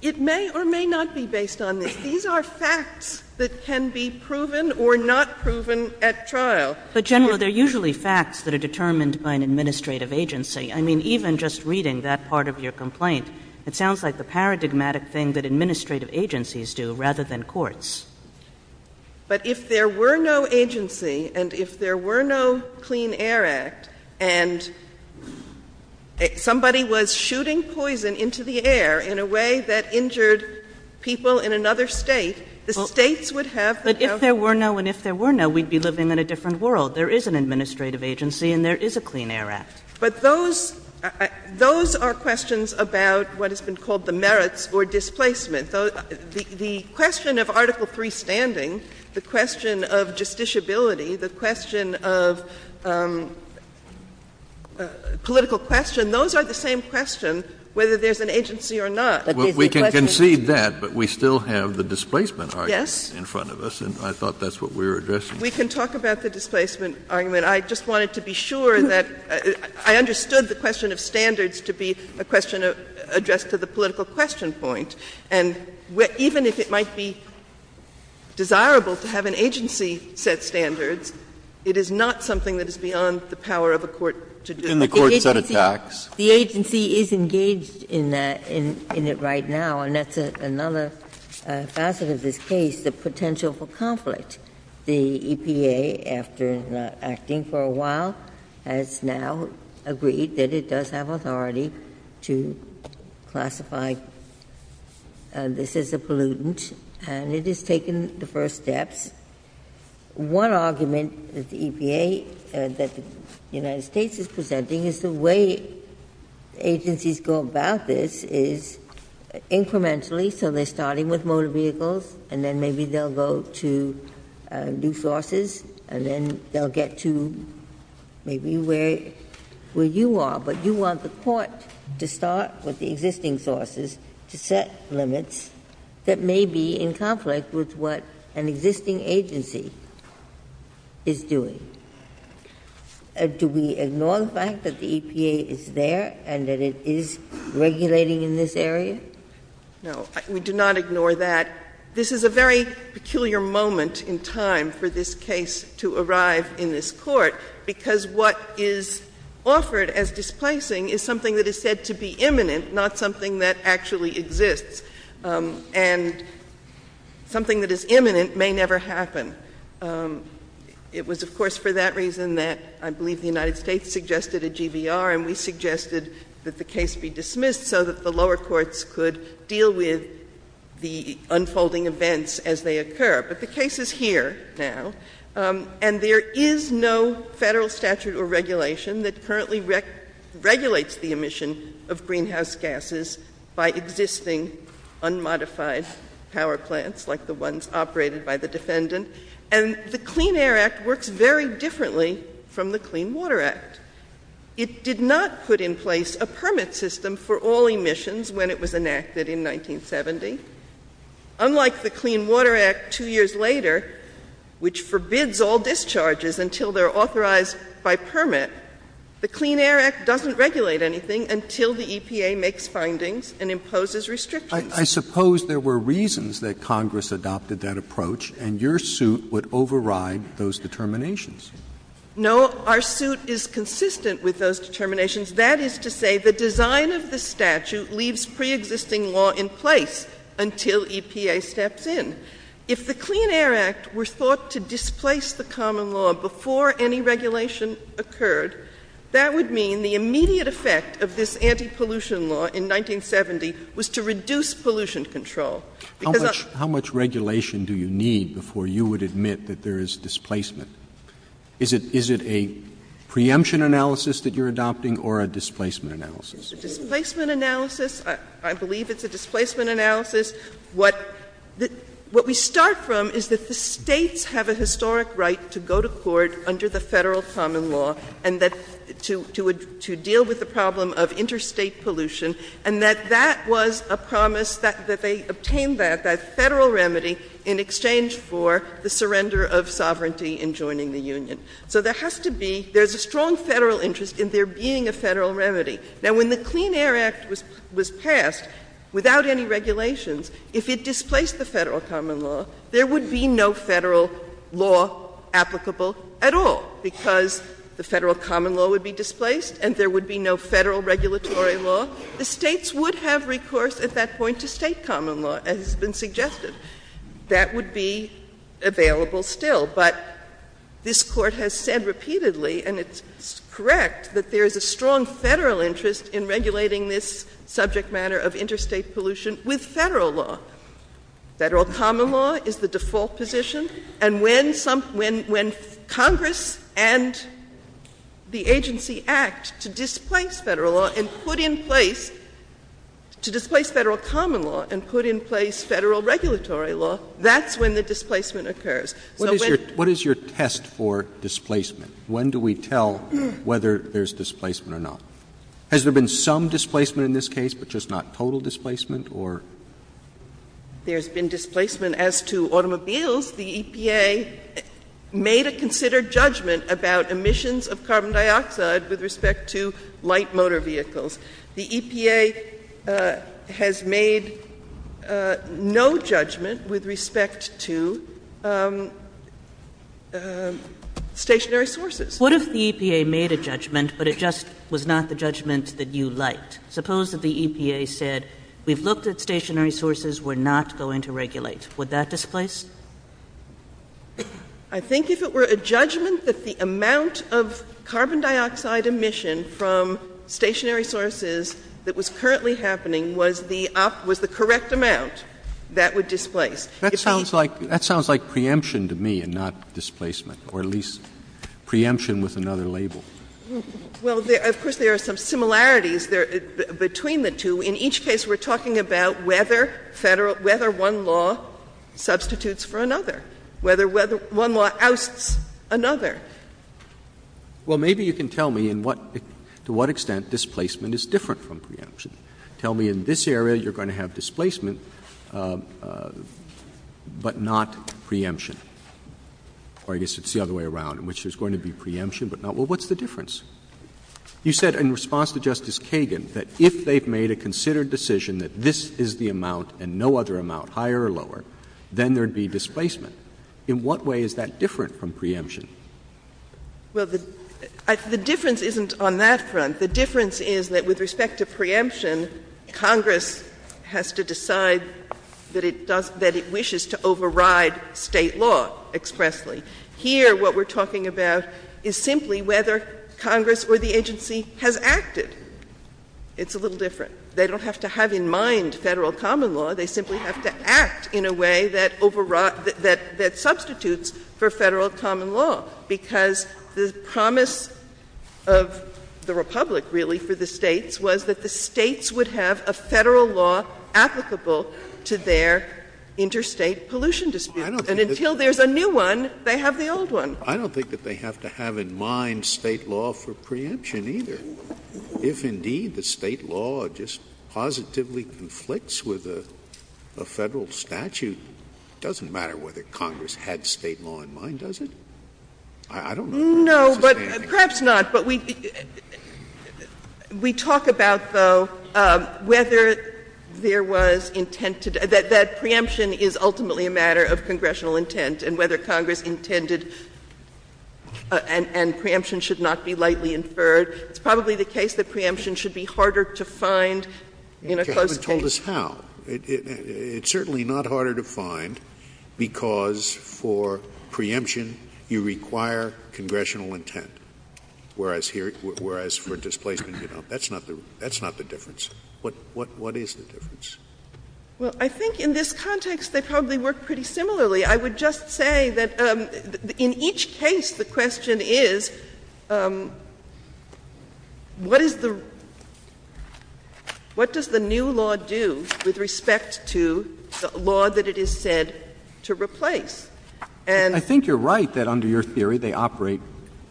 It may or may not be based on this. These are facts that can be proven or not proven at trial. But generally, they're usually facts that are determined by an administrative agency. I mean, even just reading that part of your complaint, it sounds like the paradigmatic thing that administrative agencies do rather than courts. But if there were no agency, and if there were no Clean Air Act, and somebody was shooting poison into the air in a way that injured people in another state, the states would have... But if there were no, and if there were no, we'd be living in a different world. There is an administrative agency, and there is a Clean Air Act. But those are questions about what has been called the merits or displacement. The question of Article III standing, the question of justiciability, the question of political question, those are the same questions, whether there's an agency or not. We can concede that, but we still have the displacement argument in front of us, and I thought that's what we were addressing. We can talk about the displacement argument. I just wanted to be sure that I understood the question of standards to be a question addressed to the political question point. And even if it might be desirable to have an agency set standards, it is not something that is beyond the power of a court to do. And the court set it back. The agency is engaged in that, in it right now, and that's another facet of this case, the potential for conflict. The EPA, after acting for a while, has now agreed that it does have authority to classify this as a pollutant, and it has taken the first steps. One argument that the EPA and that the United States is presenting is the way agencies go about this is incrementally, so they're starting with motor vehicles, and then maybe they'll go to new sources, and then they'll get to maybe where you are. But you want the court to start with the existing sources to set limits that may be in conflict with what an existing agency is doing. Do we ignore the fact that the EPA is there and that it is regulating in this area? No, we do not ignore that. This is a very peculiar moment in time for this case to arrive in this court, because what is offered as displacing is something that is said to be imminent, not something that actually exists. And something that is imminent may never happen. It was, of course, for that reason that I believe the United States suggested a GBR, and we suggested that the case be dismissed so that the lower courts could deal with the unfolding events as they occur. But the case is here now, and there is no federal statute or regulation that currently regulates the emission of greenhouse gases by existing unmodified power plants like the ones operated by the defendant. And the Clean Air Act works very differently from the Clean Water Act. It did not put in place a permit system for all emissions when it was enacted in 1970. Unlike the Clean Water Act two years later, which forbids all discharges until they're approved, the Clean Air Act doesn't regulate anything until the EPA makes findings and imposes restrictions. I suppose there were reasons that Congress adopted that approach, and your suit would override those determinations. No, our suit is consistent with those determinations. That is to say, the design of the statute leaves preexisting law in place until EPA steps in. If the Clean Air Act were thought to displace the common law before any regulation occurred, that would mean the immediate effect of this anti-pollution law in 1970 was to reduce pollution control. How much regulation do you need before you would admit that there is displacement? Is it a preemption analysis that you're adopting or a displacement analysis? A displacement analysis. I believe it's a displacement analysis. What we start from is that the states have a historic right to go to court under the federal common law and to deal with the problem of interstate pollution, and that that was a promise that they obtained that, that federal remedy, in exchange for the surrender of sovereignty in joining the Union. So there has to be — there's a strong federal interest in there being a federal remedy. Now, when the Clean Air Act was passed without any regulations, if it displaced the federal common law, there would be no federal law applicable at all, because the federal common law would be displaced and there would be no federal regulatory law. The states would have recourse at that point to state common law, as has been suggested. That would be available still. But this Court has said repeatedly, and it's correct, that there is a strong federal interest in regulating this subject matter of interstate pollution with federal law. Federal common law is the default position. And when Congress and the agency act to displace federal law and put in place — to displace federal common law and put in place federal regulatory law, that's when the displacement occurs. So when — What is your test for displacement? When do we tell whether there's displacement or not? Has there been some displacement in this case, but just not total displacement, or — There's been displacement. As to automobiles, the EPA made a considered judgment about emissions of carbon dioxide with respect to light motor vehicles. The EPA has made no judgment with respect to stationary sources. What if the EPA made a judgment, but it just was not the judgment that you liked? Suppose that the EPA said, we've looked at stationary sources. We're not going to regulate. Would that displace? I think if it were a judgment that the amount of carbon dioxide emission from stationary sources that was currently happening was the correct amount, that would displace. That sounds like preemption to me and not displacement, or at least preemption with another label. Well, of course, there are some similarities between the two. In each case, we're talking about whether one law substitutes for another, whether one law ousts another. Well, maybe you can tell me to what extent displacement is different from preemption. Tell me in this area you're going to have displacement, but not preemption. Or I guess it's the other way around, in which there's going to be preemption, but not — well, what's the difference? You said in response to Justice Kagan that if they've made a considered decision that this is the amount and no other amount, higher or lower, then there would be displacement. In what way is that different from preemption? Well, the difference isn't on that front. The difference is that with respect to preemption, Congress has to decide that it wishes to override State law expressly. Here, what we're talking about is simply whether Congress or the agency has acted. It's a little different. They don't have to have in mind Federal common law. They simply have to act in a way that overrides — that substitutes for Federal common law, because the promise of the Republic, really, for the States, was that the States would have a Federal law applicable to their interstate pollution dispute. And until there's a new one, they have the old one. I don't think that they have to have in mind State law for preemption, either. If, indeed, the State law just positively conflicts with a Federal statute, it doesn't matter whether Congress had State law in mind, does it? I don't know. No, but — perhaps not. But we talk about, though, whether there was intent to — that preemption is ultimately a matter of congressional intent, and whether Congress intended — and preemption should not be lightly inferred. It's probably the case that preemption should be harder to find in a closed case. You haven't told us how. It's certainly not harder to find, because for preemption, you require congressional intent, whereas here — whereas for displacement, you don't. That's not the — that's not the difference. What is the difference? Well, I think in this context, they probably work pretty similarly. I would just say that in each case, the question is, what is the — what does the new law do with respect to the law that it is said to replace? And — I think you're right that under your theory, they operate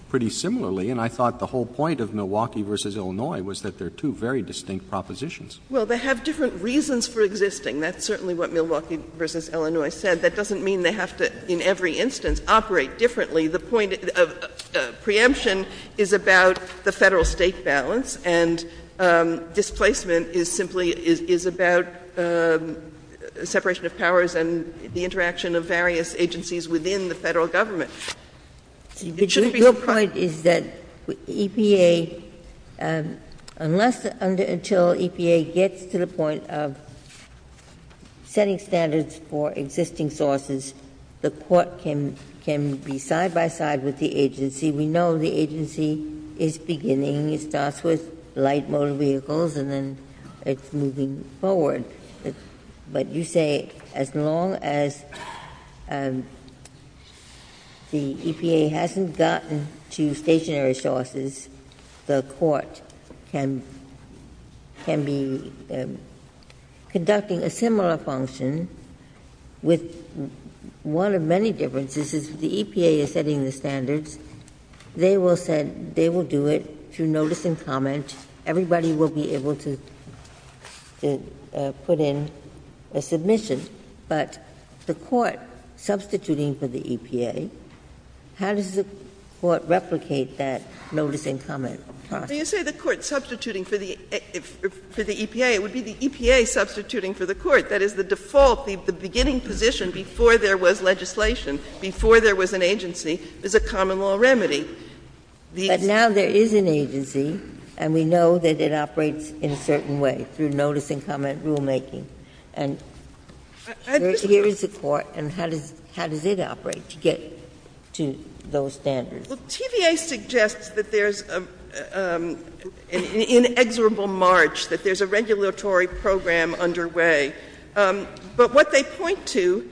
pretty similarly. And I thought the whole point of Milwaukee v. Illinois was that they're two very distinct propositions. Well, they have different reasons for existing. That's certainly what Milwaukee v. Illinois said. That doesn't mean they have to, in every instance, operate differently. The point of preemption is about the Federal-State balance, and displacement is simply — is about separation of powers and the interaction of various agencies within the Federal Government. Your point is that EPA — unless — until EPA gets to the point of setting standards for existing sources, the Court can be side-by-side with the agency. We know the agency is beginning. It starts with light motor vehicles, and then it's moving forward. But you say as long as the EPA hasn't gotten to stationary sources, the Court can be conducting a similar function with one of many differences. If the EPA is setting the standards, they will set — they will do it through notice and comment. Everybody will be able to put in a submission. But the Court substituting for the EPA, how does the Court replicate that notice and comment process? You say the Court substituting for the EPA would be the EPA substituting for the Court. That is the default. The beginning position before there was legislation, before there was an agency, is a common-law remedy. But now there is an agency, and we know that it operates in a certain way through notice and comment rulemaking. And here is the Court, and how does it operate to get to those standards? Well, TVA suggests that there's an inexorable march, that there's a regulatory program underway. But what they point to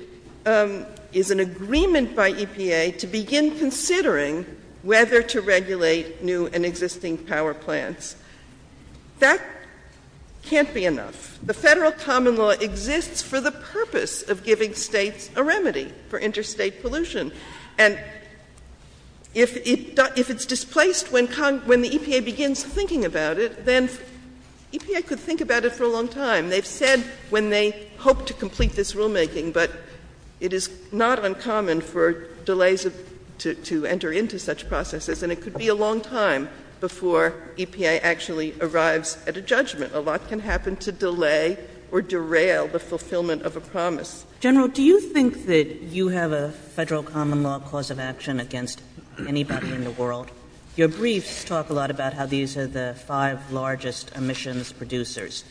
is an agreement by EPA to begin considering whether to regulate new and existing power plants. That can't be enough. The federal common law exists for the purpose of giving states a remedy for interstate pollution. And if it's displaced when the EPA begins thinking about it, then EPA could think about it for a long time. They've said when they hope to complete this rulemaking, but it is not uncommon for delays to enter into such processes, and it could be a long time before EPA actually arrives at a judgment. A lot can happen to delay or derail the fulfillment of a promise. General, do you think that you have a federal common-law cause of action against anybody in the world? Your briefs talk a lot about how these are the five largest emissions producers.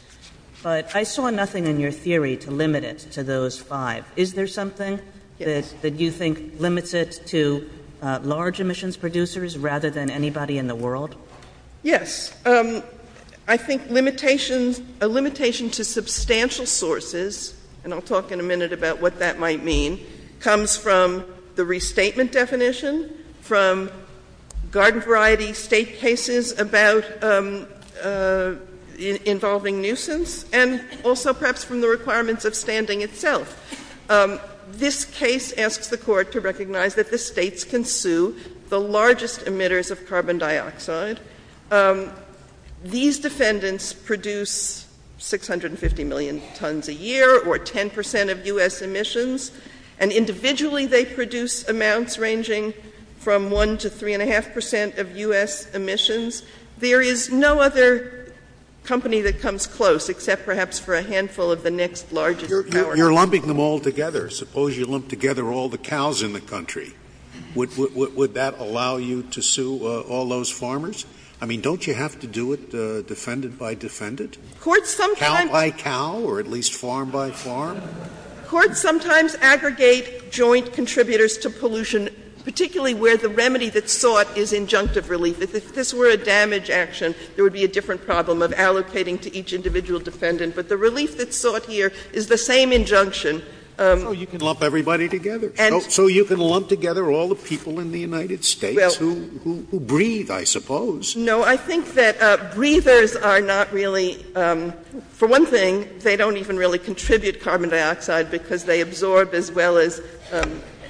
But I saw nothing in your theory to limit it to those five. Is there something that you think limits it to large emissions producers rather than anybody in the world? Yes. I think a limitation to substantial sources, and I'll talk in a minute about what that might mean, comes from the restatement definition, from garden variety state cases about involving nuisance, and also perhaps from the requirements of standing itself. This case asks the court to recognize that the states consume the largest emitters of carbon dioxide. These defendants produce 650 million tons a year, or 10% of U.S. emissions, and individually they produce amounts ranging from 1 to 3.5% of U.S. emissions. There is no other company that comes close, except perhaps for a handful of the next largest powerhouse. You're lumping them all together. Suppose you lump together all the cows in the country. Would that allow you to sue all those farmers? I mean, don't you have to do it defendant by defendant? Court sometimes— Cow by cow, or at least farm by farm? Courts sometimes aggregate joint contributors to pollution, particularly where the remedy that's sought is injunctive relief. If this were a damage action, there would be a different problem of allocating to each individual defendant. But the relief that's sought here is the same injunction. Oh, you can lump everybody together. So you can lump together all the people in the United States who breathe, I suppose. No, I think that breathers are not really—for one thing, they don't even really contribute carbon dioxide, because they absorb as well as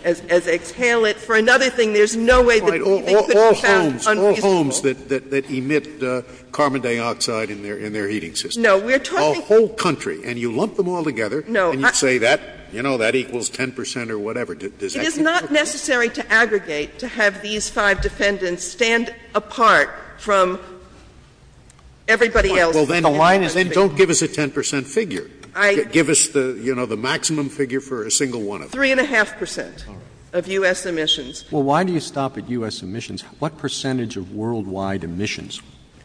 they exhale it. For another thing, there's no way— All homes, all homes that emit carbon dioxide in their heating system. No, we're talking— The whole country. And you lump them all together, and you say, you know, that equals 10 percent or whatever. It is not necessary to aggregate to have these five defendants stand apart from everybody else. Well, then don't give us a 10 percent figure. Give us the maximum figure for a single one of them. Three and a half percent of U.S. emissions. Well, why do you stop at U.S. emissions? What percentage of worldwide emissions,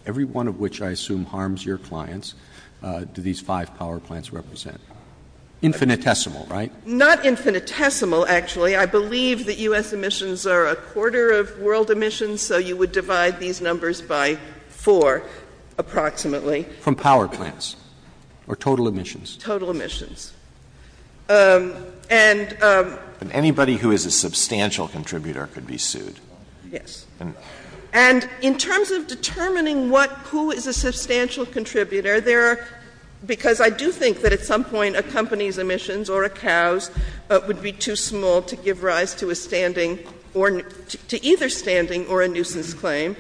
every one of which I assume harms your clients, do these five power plants represent? Infinitesimal, right? Not infinitesimal, actually. I believe that U.S. emissions are a quarter of world emissions, so you would divide these numbers by four, approximately. From power plants, or total emissions? Total emissions. And— And anybody who is a substantial contributor could be sued. Yes. And in terms of determining what—who is a substantial contributor, there are—because I do think that at some point a company's emissions or a cow's would be too small to give rise to a standing or—to either standing or a nuisance claim,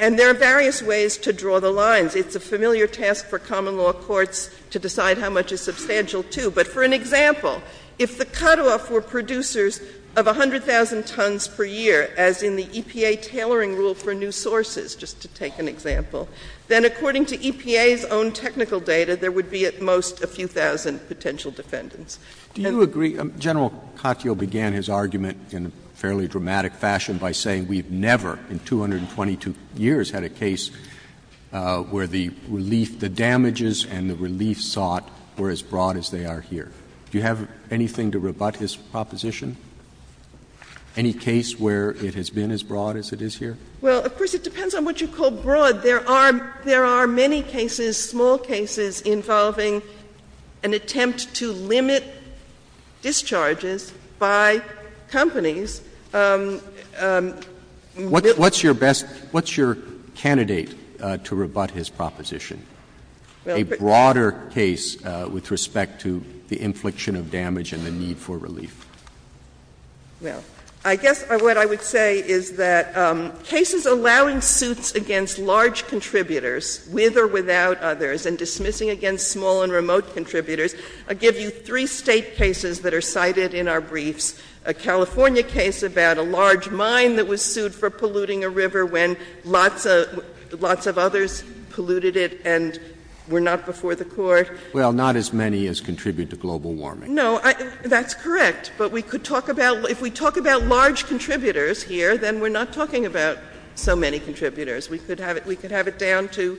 and there are various ways to draw the lines. But it's a familiar task for common law courts to decide how much is substantial, too. But for an example, if the cutoff were producers of 100,000 tons per year, as in the EPA tailoring rule for new sources, just to take an example, then according to EPA's own technical data, there would be at most a few thousand potential defendants. Do you agree—General Kakyo began his argument in a fairly dramatic fashion by saying we've never in 222 years had a case where the relief—the damages and the relief sought were as broad as they are here. Do you have anything to rebut his proposition? Any case where it has been as broad as it is here? Well, of course, it depends on what you call broad. There are many cases, small cases, involving an attempt to limit discharges by companies What's your best—what's your candidate to rebut his proposition, a broader case with respect to the infliction of damage and the need for relief? Well, I guess what I would say is that cases allowing suits against large contributors, with or without others, and dismissing against small and remote contributors, I give you cases that are cited in our briefs, a California case about a large mine that was sued for polluting a river when lots of others polluted it and were not before the court. Well, not as many as contribute to global warming. No, that's correct. But we could talk about—if we talk about large contributors here, then we're not talking about so many contributors. We could have it down to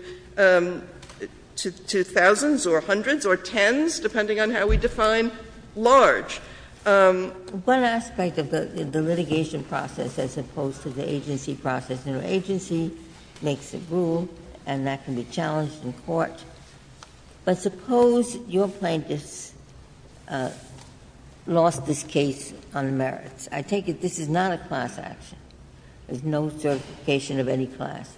thousands or hundreds or tens, depending on how we define large. One aspect of the litigation process, as opposed to the agency process, you know, agency makes the rule, and that can be challenged in court. But suppose your plaintiff lost this case on merits. I take it this is not a class action. There's no certification of any class.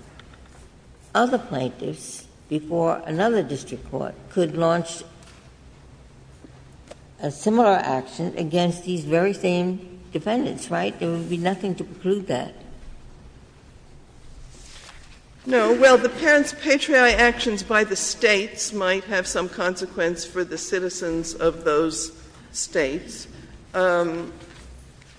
Other plaintiffs before another district court could launch a similar action against these very same defendants, right? There would be nothing to prove that. No. Well, the patriarchal actions by the states might have some consequence for the citizens of those states.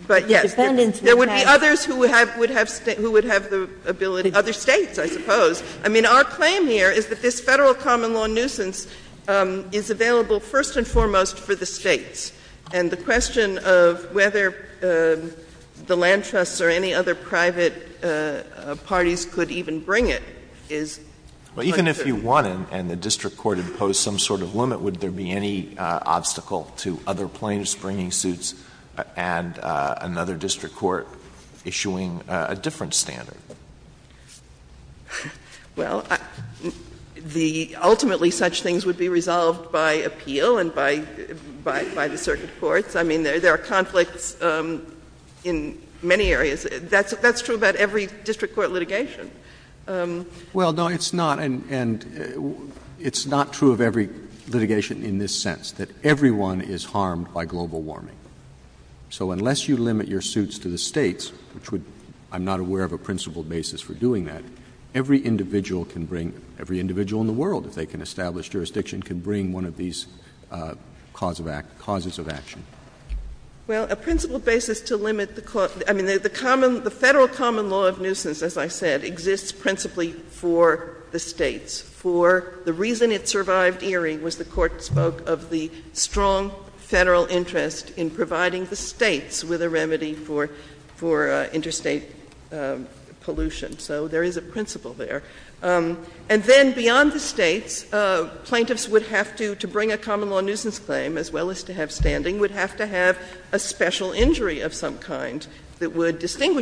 But, yes, there would be others who would have the ability—other states, I suppose. I mean, our claim here is that this Federal common law nuisance is available first and foremost for the states. And the question of whether the land trusts or any other private parties could even bring it is— Well, even if you won and the district court imposed some sort of limit, would there be any obstacle to other plaintiffs bringing suits and another district court issuing a different standard? Well, the—ultimately, such things would be resolved by appeal and by the circuit courts. I mean, there are conflicts in many areas. That's true about every district court litigation. Well, no, it's not. And it's not true of every litigation in this sense, that everyone is harmed by global warming. So unless you limit your suits to the states, which would—I'm not aware of a principled basis for doing that, every individual can bring—every individual in the world, if they can establish jurisdiction, can bring one of these causes of action. Well, a principled basis to limit the—I mean, the Federal common law nuisance, as I said, exists principally for the states. For the reason it survived Erie was the court spoke of the strong Federal interest in providing the states with a remedy for interstate pollution. So there is a principle there. And then beyond the states, plaintiffs would have to—to bring a common law nuisance claim as well as to have standing, would have to have a special injury of some kind that would protect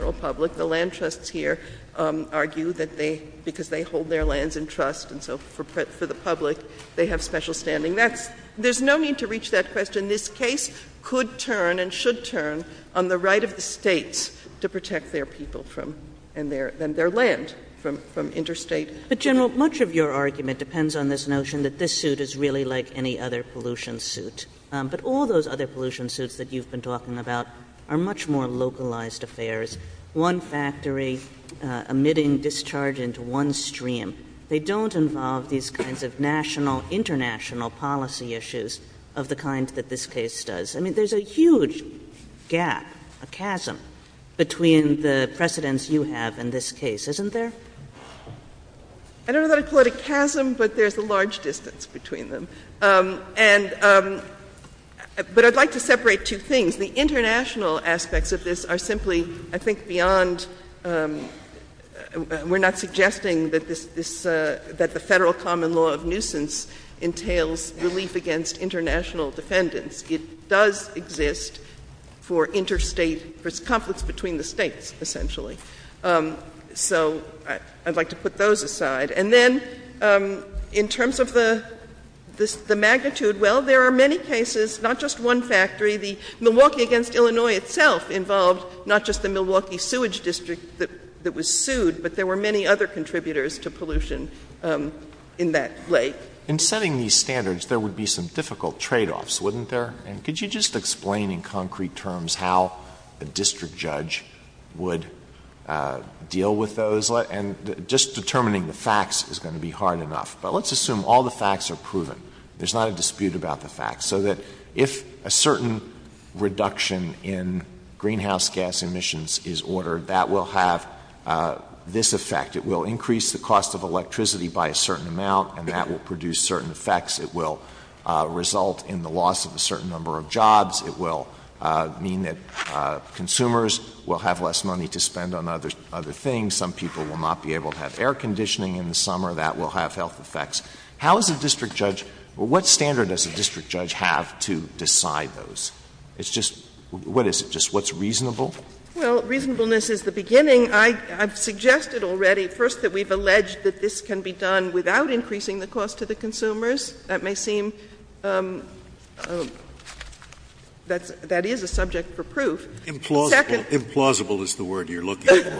the public. The land trusts here argue that they—because they hold their lands in trust and so forth for the public, they have special standing. That's—there's no need to reach that question. This case could turn and should turn on the right of the states to protect their people from—and their land from interstate— But, General, much of your argument depends on this notion that this suit is really like any other pollution suit. But all those other pollution suits that you've been talking about are much more localized affairs. One factory emitting discharge into one stream. They don't involve these kinds of national, international policy issues of the kind that this case does. I mean, there's a huge gap, a chasm, between the precedents you have in this case, isn't there? I don't know how to call it a chasm, but there's a large distance between them. But I'd like to separate two things. The international aspects of this are simply, I think, beyond—we're not suggesting that this—that the federal common law of nuisance entails relief against international defendants. It does exist for interstate—for conflicts between the states, essentially. So I'd like to put those aside. And then, in terms of the magnitude, well, there are many cases, not just one factory. The Milwaukee v. Illinois itself involved not just the Milwaukee sewage district that was sued, but there were many other contributors to pollution in that lake. In setting these standards, there would be some difficult tradeoffs, wouldn't there? And could you just explain in concrete terms how a district judge would deal with those? Just determining the facts is going to be hard enough. But let's assume all the facts are proven. There's not a dispute about the facts. So that if a certain reduction in greenhouse gas emissions is ordered, that will have this effect. It will increase the cost of electricity by a certain amount, and that will produce certain effects. It will result in the loss of a certain number of jobs. It will mean that consumers will have less money to spend on other things. Some people will not be able to have air conditioning in the summer. That will have health effects. How is a district judge — what standard does a district judge have to decide those? It's just — what is it? Just what's reasonable? Well, reasonableness is the beginning. I've suggested already, first, that we've alleged that this can be done without increasing the cost to the consumers. That may seem — that is a subject for proof. Implausible is the word you're looking for.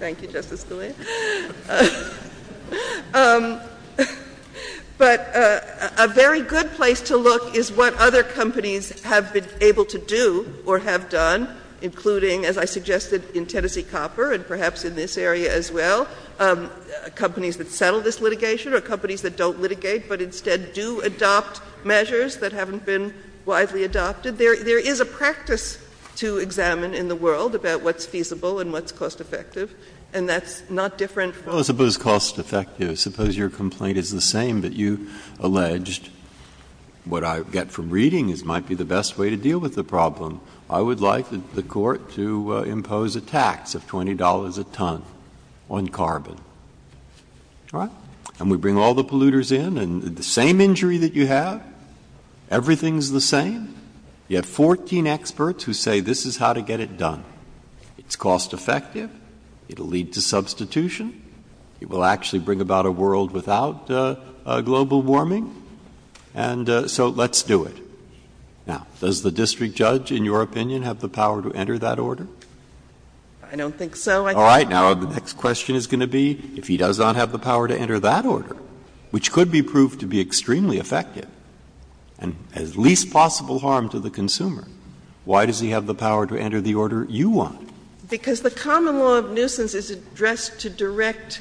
Thank you, Justice Scalia. But a very good place to look is what other companies have been able to do or have done, including, as I suggested, in Tennessee Copper and perhaps in this area as well, companies that settle this litigation or companies that don't litigate but instead do adopt measures that haven't been widely adopted. There is a practice to examine in the world about what's feasible and what's cost-effective, and that's not different from — Well, suppose cost-effective. Suppose your complaint is the same that you alleged. What I get from reading this might be the best way to deal with the problem. I would like the court to impose a tax of $20 a ton on carbon. And we bring all the polluters in, and the same injury that you have, everything's the same. You have 14 experts who say this is how to get it done. It's cost-effective. It'll lead to substitution. It will actually bring about a world without global warming. And so let's do it. Now, does the district judge, in your opinion, have the power to enter that order? I don't think so. All right. Now, the next question is going to be if he does not have the power to enter that order, which could be proved to be extremely effective and has least possible harm to the consumer, why does he have the power to enter the order you want? Because the common law of nuisance is addressed to direct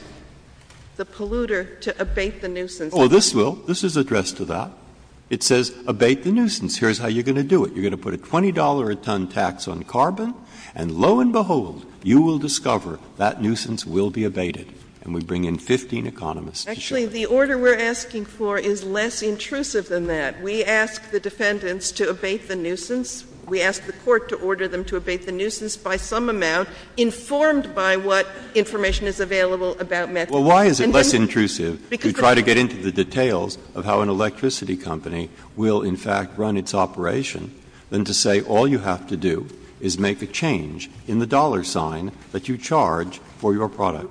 the polluter to abate the nuisance. Oh, this will. This is addressed to that. It says abate the nuisance. Here's how you're going to do it. You're going to put a $20 a ton tax on carbon, and lo and behold, you will discover that nuisance will be abated. And we bring in 15 economists to show you. Actually, the order we're asking for is less intrusive than that. We ask the defendants to abate the nuisance. We ask the court to order them to abate the nuisance by some amount informed by what information is available about methane. Well, why is it less intrusive? You try to get into the details of how an electricity company will, in fact, run its operation, than to say all you have to do is make a change in the dollar sign that you charge for your product.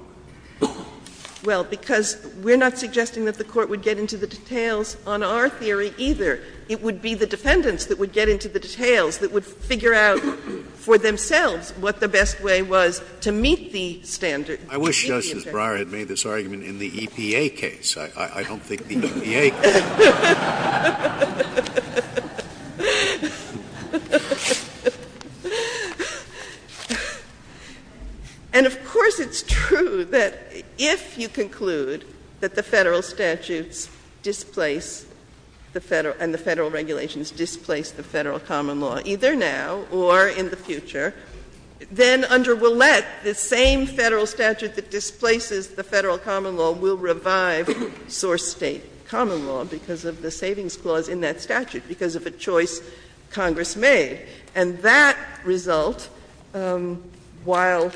Well, because we're not suggesting that the court would get into the details on our theory either. It would be the defendants that would get into the details, that would figure out for themselves what the best way was to meet the standard. I wish Justice Breyer had made this argument in the EPA case. I don't think the EPA case. And, of course, it's true that if you conclude that the federal statutes displace the federal and the federal regulations displace the federal common law, either now or in the future, then under Willett, the same federal statute that displaces the federal common law will revive source state common law because of the savings clause in that statute, because of a choice Congress made. And that result, while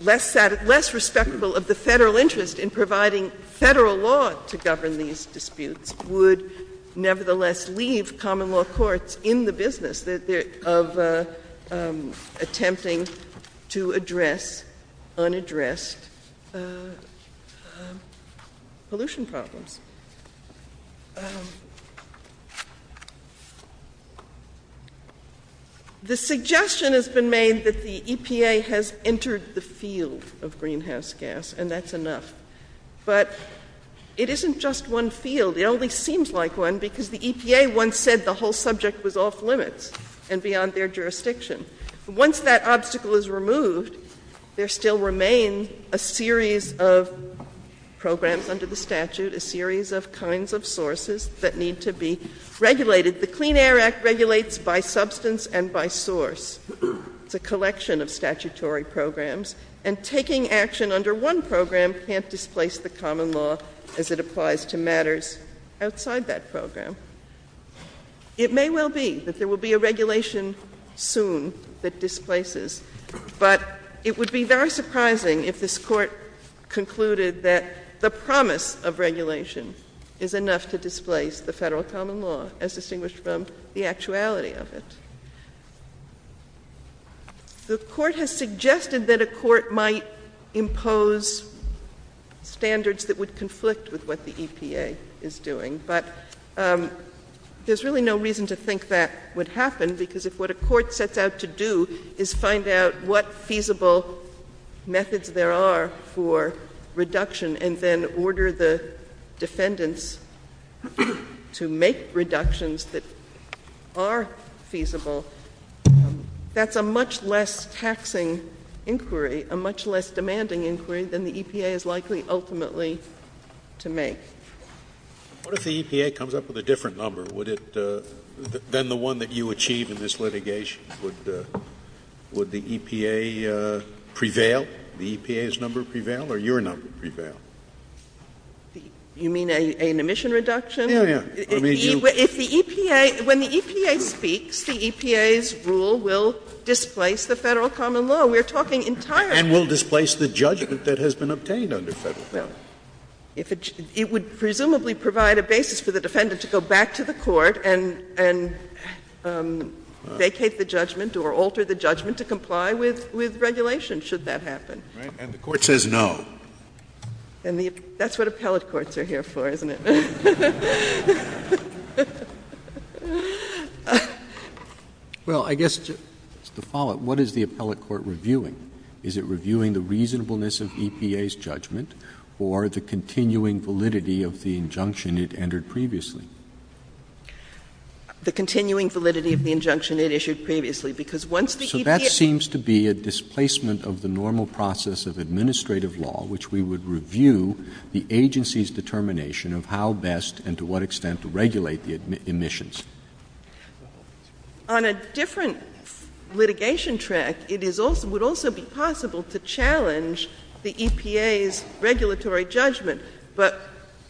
less respectable of the federal interest in providing federal law to govern these disputes, would nevertheless leave common law courts in the business of attempting to address unaddressed pollution problems. The suggestion has been made that the EPA has entered the field of greenhouse gas, and that's enough. But it isn't just one field. It only seems like one because the EPA once said the whole subject was off limits and beyond their jurisdiction. Once that obstacle is removed, there still remains a series of programs under the statute, a series of kinds of sources that need to be regulated. The Clean Air Act regulates by substance and by source the collection of statutory programs, and taking action under one program can't displace the common law as it applies to matters outside that program. It may well be that there will be a regulation soon that displaces, but it would be very surprising if this Court concluded that the promise of regulation is enough to displace the federal common law, as distinguished from the actuality of it. The Court has suggested that a court might impose standards that would conflict with what the EPA is doing, but there's really no reason to think that would happen, because if what a court sets out to do is find out what feasible methods there are for reduction and then order the defendants to make reductions that are feasible, that's a much less taxing inquiry, a much less demanding inquiry than the EPA is likely ultimately to make. What if the EPA comes up with a different number than the one that you achieve in this litigation? Would the EPA prevail, the EPA's number prevail, or your number prevail? You mean an emission reduction? Yeah, yeah. When the EPA speaks, the EPA's rule will displace the federal common law. We're talking entirely... And will displace the judgment that has been obtained under federal law. It would presumably provide a basis for the defendant to go back to the court and vacate the judgment or alter the judgment to comply with regulation, should that happen. And the Court says no. That's what appellate courts are here for, isn't it? Well, I guess to follow up, what is the appellate court reviewing? Is it reviewing the reasonableness of EPA's judgment or the continuing validity of the injunction it entered previously? The continuing validity of the injunction it issued previously, because once the EPA... So that seems to be a displacement of the normal process of administrative law, which we would review the agency's determination of how best and to what extent to regulate the emissions. On a different litigation track, it would also be possible to challenge the EPA's regulatory judgment. But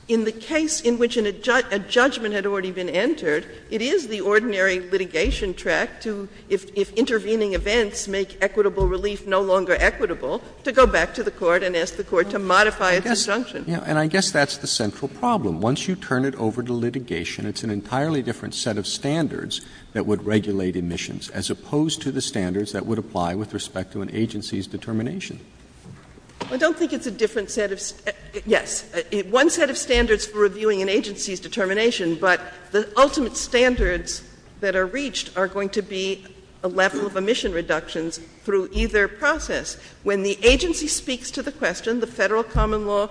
in the case in which a judgment had already been entered, it is the ordinary litigation track to, if intervening events make equitable relief no longer equitable, to go back to the court and ask the court to modify the injunction. Yeah, and I guess that's the central problem. Once you turn it over to litigation, it's an entirely different set of standards that would regulate emissions as opposed to the standards that would apply with respect to an agency's determination. I don't think it's a different set of... Yes. One set of standards for reviewing an agency's determination, but the ultimate standards that are reached are going to be a level of emission reductions through either process. When the agency speaks to the question, the federal common law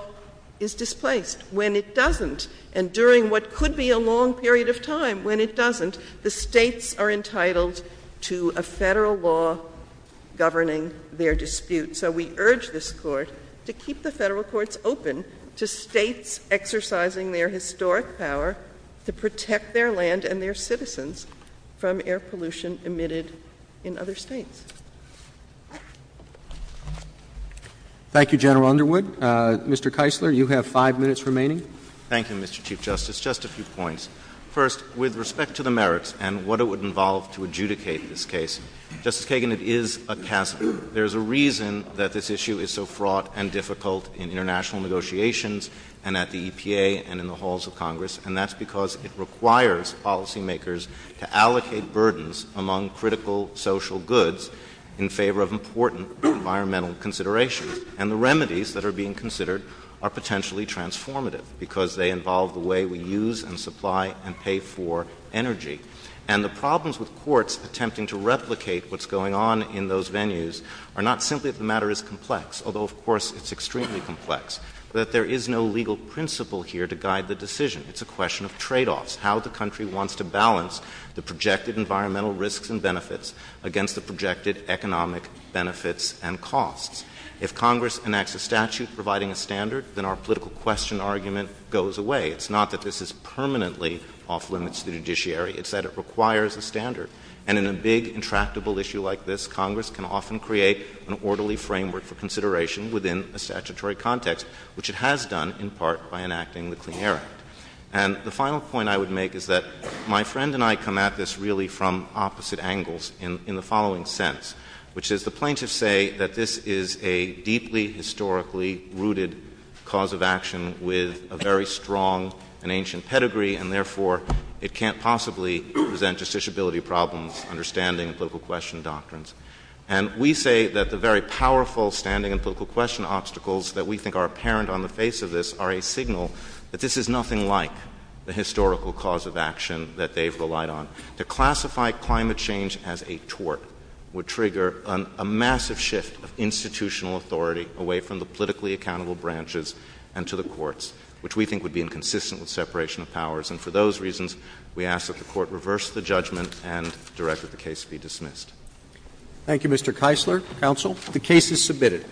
is displaced. When it doesn't, and during what could be a long period of time when it doesn't, the states are entitled to a federal law governing their dispute. So we urge this court to keep the federal courts open to states exercising their historic power to protect their land and their citizens from air pollution emitted in other states. Thank you, General Underwood. Mr. Keisler, you have five minutes remaining. Thank you, Mr. Chief Justice. Just a few points. First, with respect to the merits and what it would involve to adjudicate this case, Justice Kagan, it is a task. There's a reason that this issue is so fraught and difficult in international negotiations and at the EPA and in the halls of Congress, and that's because it requires policymakers to allocate burdens among critical social goods in favor of important environmental considerations. And the remedies that are being considered are potentially transformative because they involve the way we use and supply and pay for energy. And the problems with courts attempting to replicate what's going on in those venues are not simply that the matter is complex, although, of course, it's extremely complex, but that there is no legal principle here to guide the decision. It's a question of tradeoffs, how the country wants to balance the projected environmental risks and benefits against the projected economic benefits and costs. If Congress enacts a statute providing a standard, then our political question argument goes away. It's not that this is permanently off-limits to the judiciary. It's that it requires a standard. And in a big, intractable issue like this, Congress can often create an orderly framework for consideration within a statutory context, which it has done in part by enacting the Clean Air Act. And the final point I would make is that my friend and I come at this really from opposite angles in the following sense, which is the plaintiffs say that this is a deeply historically rooted cause of action with a very strong and ancient pedigree, and therefore it can't possibly present justiciability problems, understanding and political question doctrines. And we say that the very powerful standing and political question obstacles that we think are apparent on the face of this are a signal that this is nothing like the historical cause of action that they've relied on. To classify climate change as a tort would trigger a massive shift of institutional authority away from the politically accountable branches and to the courts, which we think would be inconsistent with separation of powers. And for those reasons, we ask that the court reverse the judgment and direct that the case be dismissed. Thank you, Mr. Keisler. Counsel, the case is submitted.